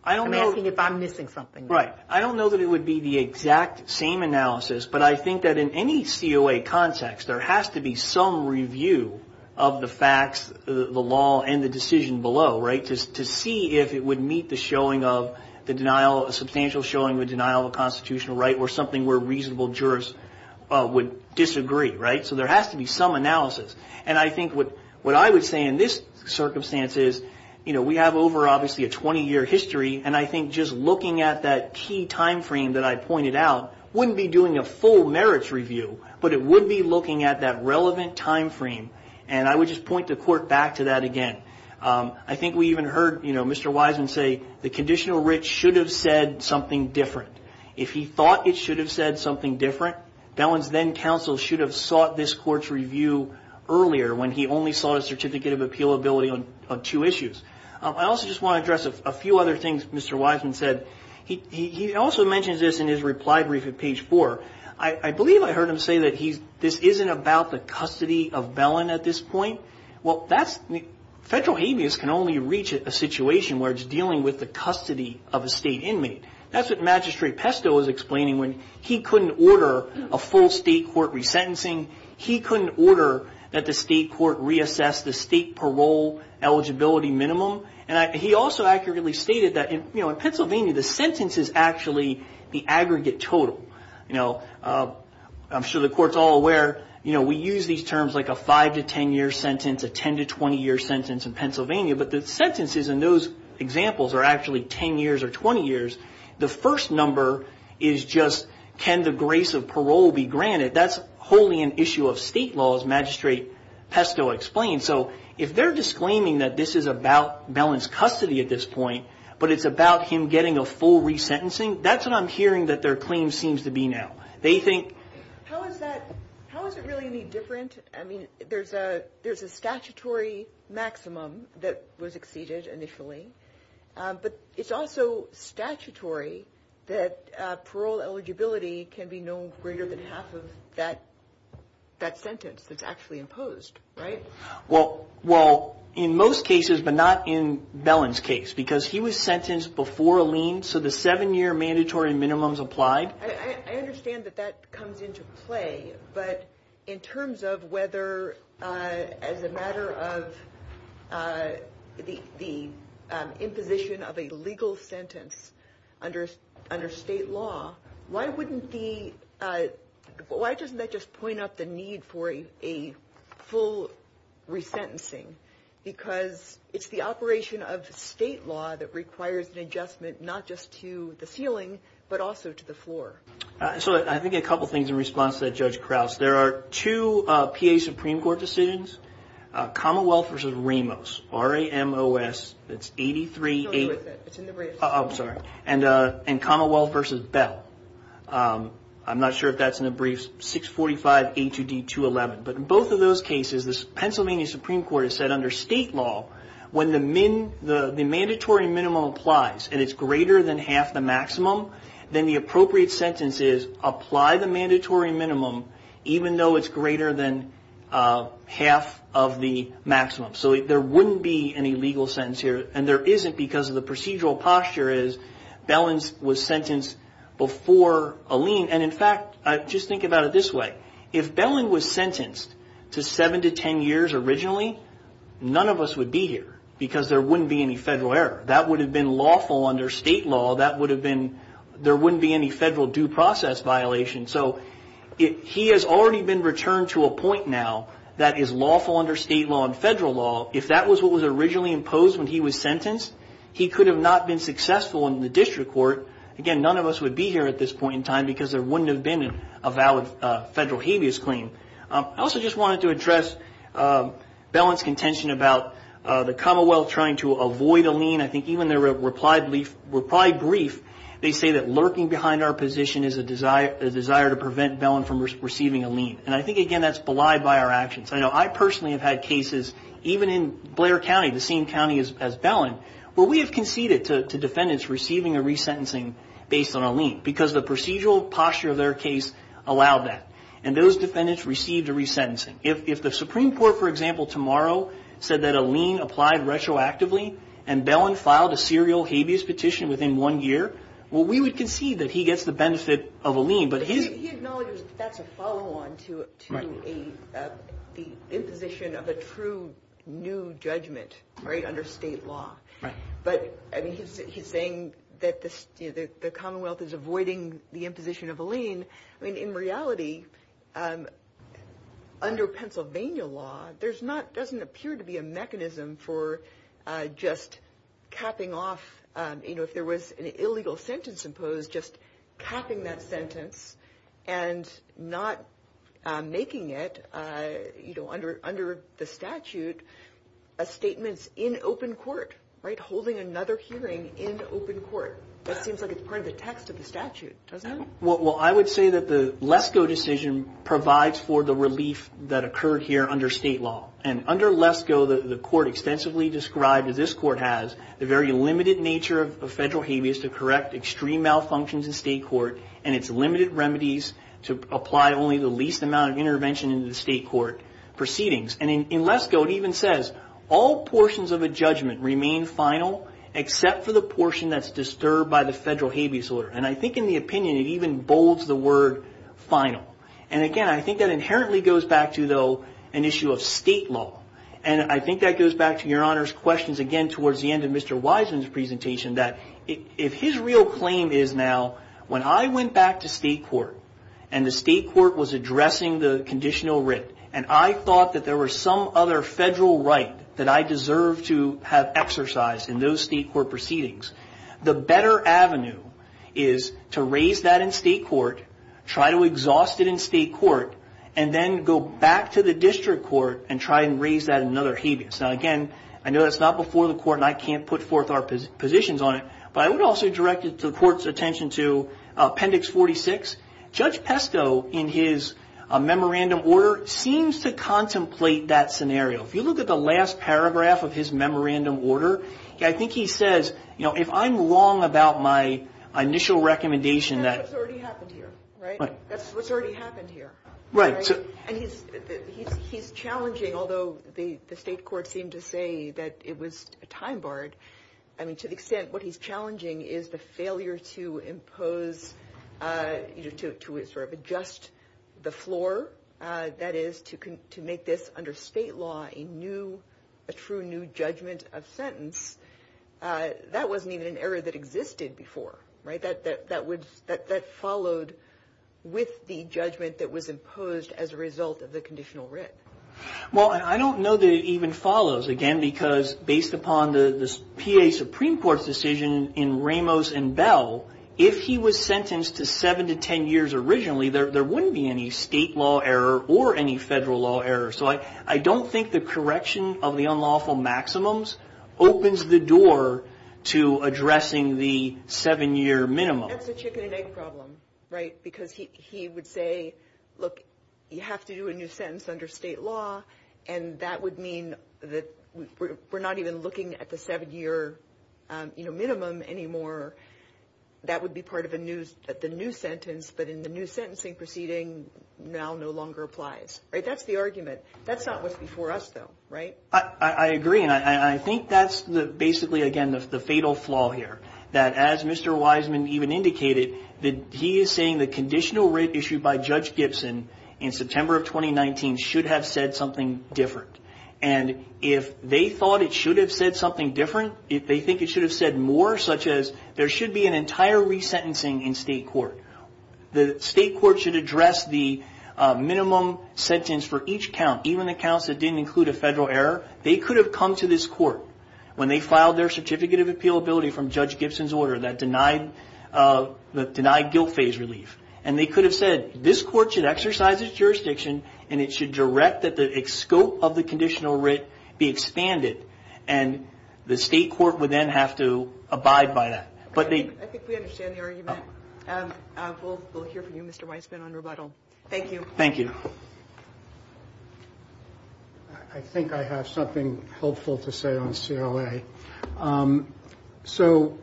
I'm asking if I'm missing something. Right. I don't know that it would be the exact same analysis, but I think that in any COA context, there has to be some review of the facts, the law, and the decision below, right, to see if it would meet the showing of the denial, a substantial showing of the denial of a constitutional right or something where reasonable jurors would disagree, right? So there has to be some analysis. And I think what I would say in this circumstance is, you know, we have over, obviously, a 20-year history, and I think just looking at that key time frame that I pointed out wouldn't be doing a full merits review, but it would be looking at that relevant time frame, and I would just point the court back to that again. I think we even heard, you know, Mr. Wiseman say the conditional writ should have said something different. If he thought it should have said something different, Bellin's then counsel should have sought this court's review earlier when he only sought a certificate of appealability on two issues. I also just want to address a few other things Mr. Wiseman said. He also mentions this in his reply brief at page four. I believe I heard him say that this isn't about the custody of Bellin at this point. Well, federal habeas can only reach a situation where it's dealing with the custody of a state inmate. That's what Magistrate Pesto was explaining when he couldn't order a full state court resentencing. He couldn't order that the state court reassess the state parole eligibility minimum. And he also accurately stated that, you know, in Pennsylvania the sentence is actually the aggregate total. You know, I'm sure the court's all aware, you know, we use these terms like a five to ten year sentence, a ten to twenty year sentence in Pennsylvania. But the sentences in those examples are actually ten years or twenty years. The first number is just can the grace of parole be granted? That's wholly an issue of state law, as Magistrate Pesto explained. So if they're disclaiming that this is about Bellin's custody at this point, but it's about him getting a full resentencing, that's what I'm hearing that their claim seems to be now. How is it really any different? I mean, there's a statutory maximum that was exceeded initially, but it's also statutory that parole eligibility can be no greater than half of that sentence that's actually imposed, right? Well, in most cases, but not in Bellin's case, because he was sentenced before a lien. So the seven year mandatory minimum is applied. I understand that that comes into play. But in terms of whether as a matter of the imposition of a legal sentence under state law, why wouldn't the, why doesn't that just point up the need for a full resentencing? Because it's the operation of state law that requires an adjustment, not just to the ceiling, but also to the floor. So I think a couple things in response to that, Judge Krause. There are two PA Supreme Court decisions, Commonwealth versus Ramos, R-A-M-O-S, that's 83-8. It's in the briefs. I'm sorry. And Commonwealth versus Bell. I'm not sure if that's in the briefs, 645 A2D211. But in both of those cases, the Pennsylvania Supreme Court has said under state law, when the mandatory minimum applies and it's greater than half the maximum, then the appropriate sentence is apply the mandatory minimum even though it's greater than half of the maximum. So there wouldn't be any legal sentence here. And there isn't because of the procedural posture is Bellin was sentenced before a lien. And in fact, just think about it this way. If Bellin was sentenced to 7 to 10 years originally, none of us would be here because there wouldn't be any federal error. That would have been lawful under state law. That would have been – there wouldn't be any federal due process violation. So he has already been returned to a point now that is lawful under state law and federal law. If that was what was originally imposed when he was sentenced, he could have not been successful in the district court. Again, none of us would be here at this point in time because there wouldn't have been a valid federal habeas claim. I also just wanted to address Bellin's contention about the Commonwealth trying to avoid a lien. I think even their reply brief, they say that lurking behind our position is a desire to prevent Bellin from receiving a lien. And I think, again, that's belied by our actions. I know I personally have had cases even in Blair County, the same county as Bellin, where we have conceded to defendants receiving a resentencing based on a lien because the procedural posture of their case allowed that. And those defendants received a resentencing. If the Supreme Court, for example, tomorrow said that a lien applied retroactively and Bellin filed a serial habeas petition within one year, well, we would concede that he gets the benefit of a lien. He acknowledges that that's a follow-on to the imposition of a true new judgment under state law. But he's saying that the Commonwealth is avoiding the imposition of a lien. In reality, under Pennsylvania law, there doesn't appear to be a mechanism for just capping off. You know, if there was an illegal sentence imposed, just capping that sentence and not making it, you know, under the statute a statement in open court, right, holding another hearing in open court. That seems like it's part of the text of the statute, doesn't it? Well, I would say that the Lesko decision provides for the relief that occurred here under state law. And under Lesko, the court extensively described, as this court has, the very limited nature of federal habeas to correct extreme malfunctions in state court and its limited remedies to apply only the least amount of intervention in the state court proceedings. And in Lesko, it even says, all portions of a judgment remain final except for the portion that's disturbed by the federal habeas order. And I think in the opinion, it even bolds the word final. And again, I think that inherently goes back to, though, an issue of state law. And I think that goes back to Your Honor's questions, again, towards the end of Mr. Wiseman's presentation, that if his real claim is now, when I went back to state court and the state court was addressing the conditional writ and I thought that there was some other federal right that I deserve to have exercised in those state court proceedings, the better avenue is to raise that in state court, try to exhaust it in state court, and then go back to the district court and try and raise that in another habeas. Now, again, I know that's not before the court and I can't put forth our positions on it, but I would also direct the court's attention to Appendix 46. Judge Pesto, in his memorandum order, seems to contemplate that scenario. If you look at the last paragraph of his memorandum order, I think he says, you know, if I'm wrong about my initial recommendation that- That's what's already happened here, right? That's what's already happened here. Right. And he's challenging, although the state court seemed to say that it was time-barred, I mean, to the extent what he's challenging is the failure to impose, to sort of adjust the floor, that is, to make this under state law a new, a true new judgment of sentence, that wasn't even an error that existed before, right? That followed with the judgment that was imposed as a result of the conditional writ. Well, I don't know that it even follows, again, because based upon the PA Supreme Court's decision in Ramos and Bell, if he was sentenced to seven to ten years originally, there wouldn't be any state law error or any federal law error. So I don't think the correction of the unlawful maximums opens the door to addressing the seven-year minimum. That's a chicken-and-egg problem, right? Because he would say, look, you have to do a new sentence under state law, and that would mean that we're not even looking at the seven-year minimum anymore. That would be part of the new sentence, but in the new sentencing proceeding, now no longer applies. That's the argument. That's not what's before us, though, right? I agree, and I think that's basically, again, the fatal flaw here, that as Mr. Wiseman even indicated, that he is saying the conditional writ issued by Judge Gibson in September of 2019 should have said something different. And if they thought it should have said something different, if they think it should have said more, such as there should be an entire resentencing in state court, the state court should address the minimum sentence for each count, even the counts that didn't include a federal error. They could have come to this court when they filed their certificate of appealability from Judge Gibson's order that denied guilt phase relief, and they could have said this court should exercise its jurisdiction and it should direct that the scope of the conditional writ be expanded, and the state court would then have to abide by that. I think we understand the argument. We'll hear from you, Mr. Wiseman, on rebuttal. Thank you. Thank you. I think I have something helpful to say on CLA. So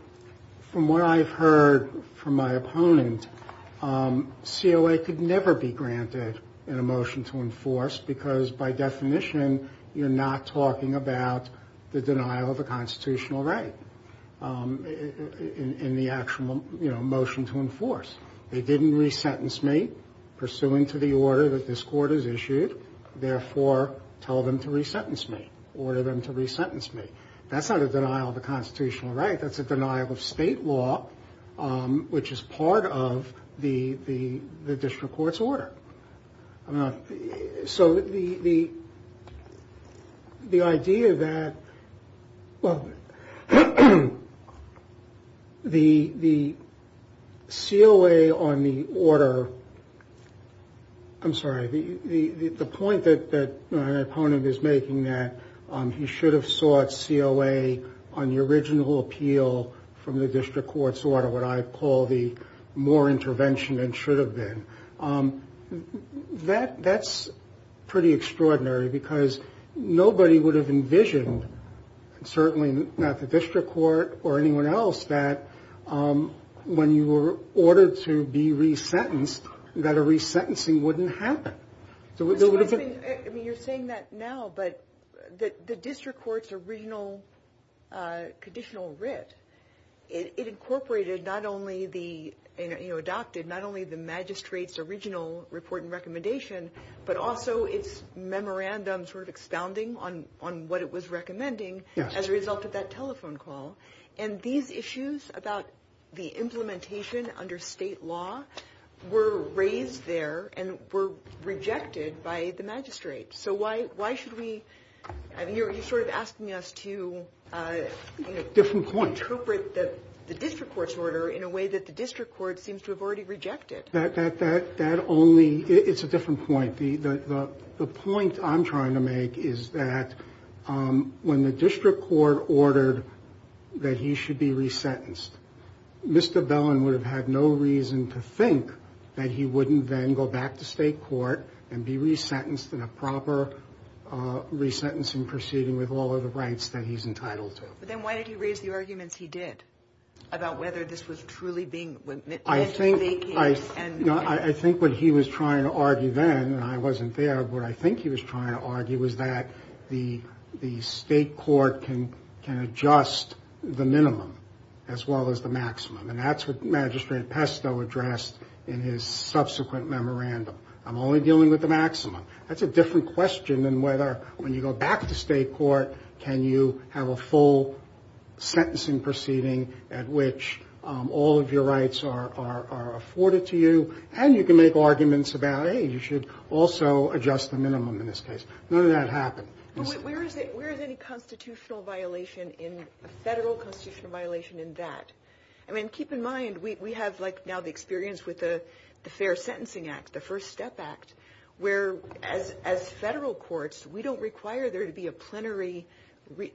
from what I've heard from my opponent, CLA could never be granted in a motion to enforce because, by definition, you're not talking about the denial of a constitutional right in the actual, you know, motion to enforce. They didn't resentence me pursuant to the order that this court has issued, therefore tell them to resentence me, order them to resentence me. That's not a denial of a constitutional right. That's a denial of state law, which is part of the district court's order. So the idea that, well, the COA on the order, I'm sorry, the point that my opponent is making that he should have sought COA on the original appeal from the district court's order, what I call the more intervention than should have been, that's pretty extraordinary because nobody would have envisioned, certainly not the district court or anyone else, that when you were ordered to be resentenced, that a resentencing wouldn't happen. I mean, you're saying that now, but the district court's original conditional writ, it incorporated not only the, you know, adopted not only the magistrate's original report and recommendation, but also its memorandum sort of expounding on what it was recommending as a result of that telephone call. And these issues about the implementation under state law were raised there and were rejected by the magistrate. So why should we, I mean, you're sort of asking us to, you know, interpret the district court's order in a way that the district court seems to have already rejected. That only, it's a different point. The point I'm trying to make is that when the district court ordered that he should be resentenced, Mr. Bellin would have had no reason to think that he wouldn't then go back to state court and be resentenced in a proper resentencing proceeding with all of the rights that he's entitled to. But then why did he raise the arguments he did about whether this was truly being, meant to be making? I think what he was trying to argue then, and I wasn't there, but what I think he was trying to argue was that the state court can adjust the minimum as well as the maximum. And that's what Magistrate Pesto addressed in his subsequent memorandum. I'm only dealing with the maximum. That's a different question than whether when you go back to state court, can you have a full sentencing proceeding at which all of your rights are afforded to you, and you can make arguments about, hey, you should also adjust the minimum in this case. None of that happened. But where is any constitutional violation in, a federal constitutional violation in that? I mean, keep in mind, we have like now the experience with the Fair Sentencing Act, the First Step Act, where as federal courts, we don't require there to be a plenary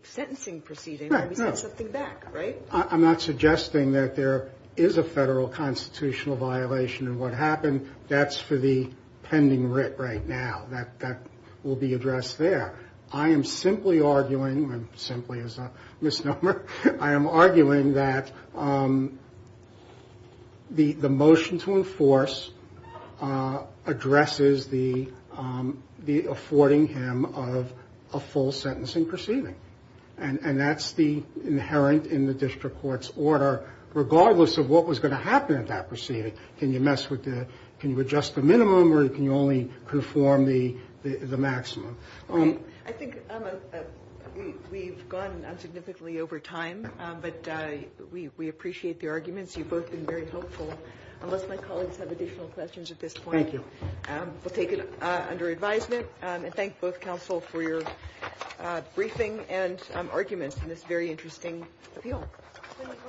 sentencing proceeding. We send something back, right? I'm not suggesting that there is a federal constitutional violation in what happened. That's for the pending writ right now. That will be addressed there. I am simply arguing, simply is a misnomer. I am arguing that the motion to enforce addresses the affording him of a full sentencing proceeding. And that's the inherent in the district court's order, regardless of what was going to happen at that proceeding. Can you mess with the, can you adjust the minimum, or can you only perform the maximum? I think we've gone on significantly over time, but we appreciate the arguments. You've both been very helpful. Unless my colleagues have additional questions at this point. Thank you. We'll take it under advisement. And thank both counsel for your briefing and arguments in this very interesting appeal.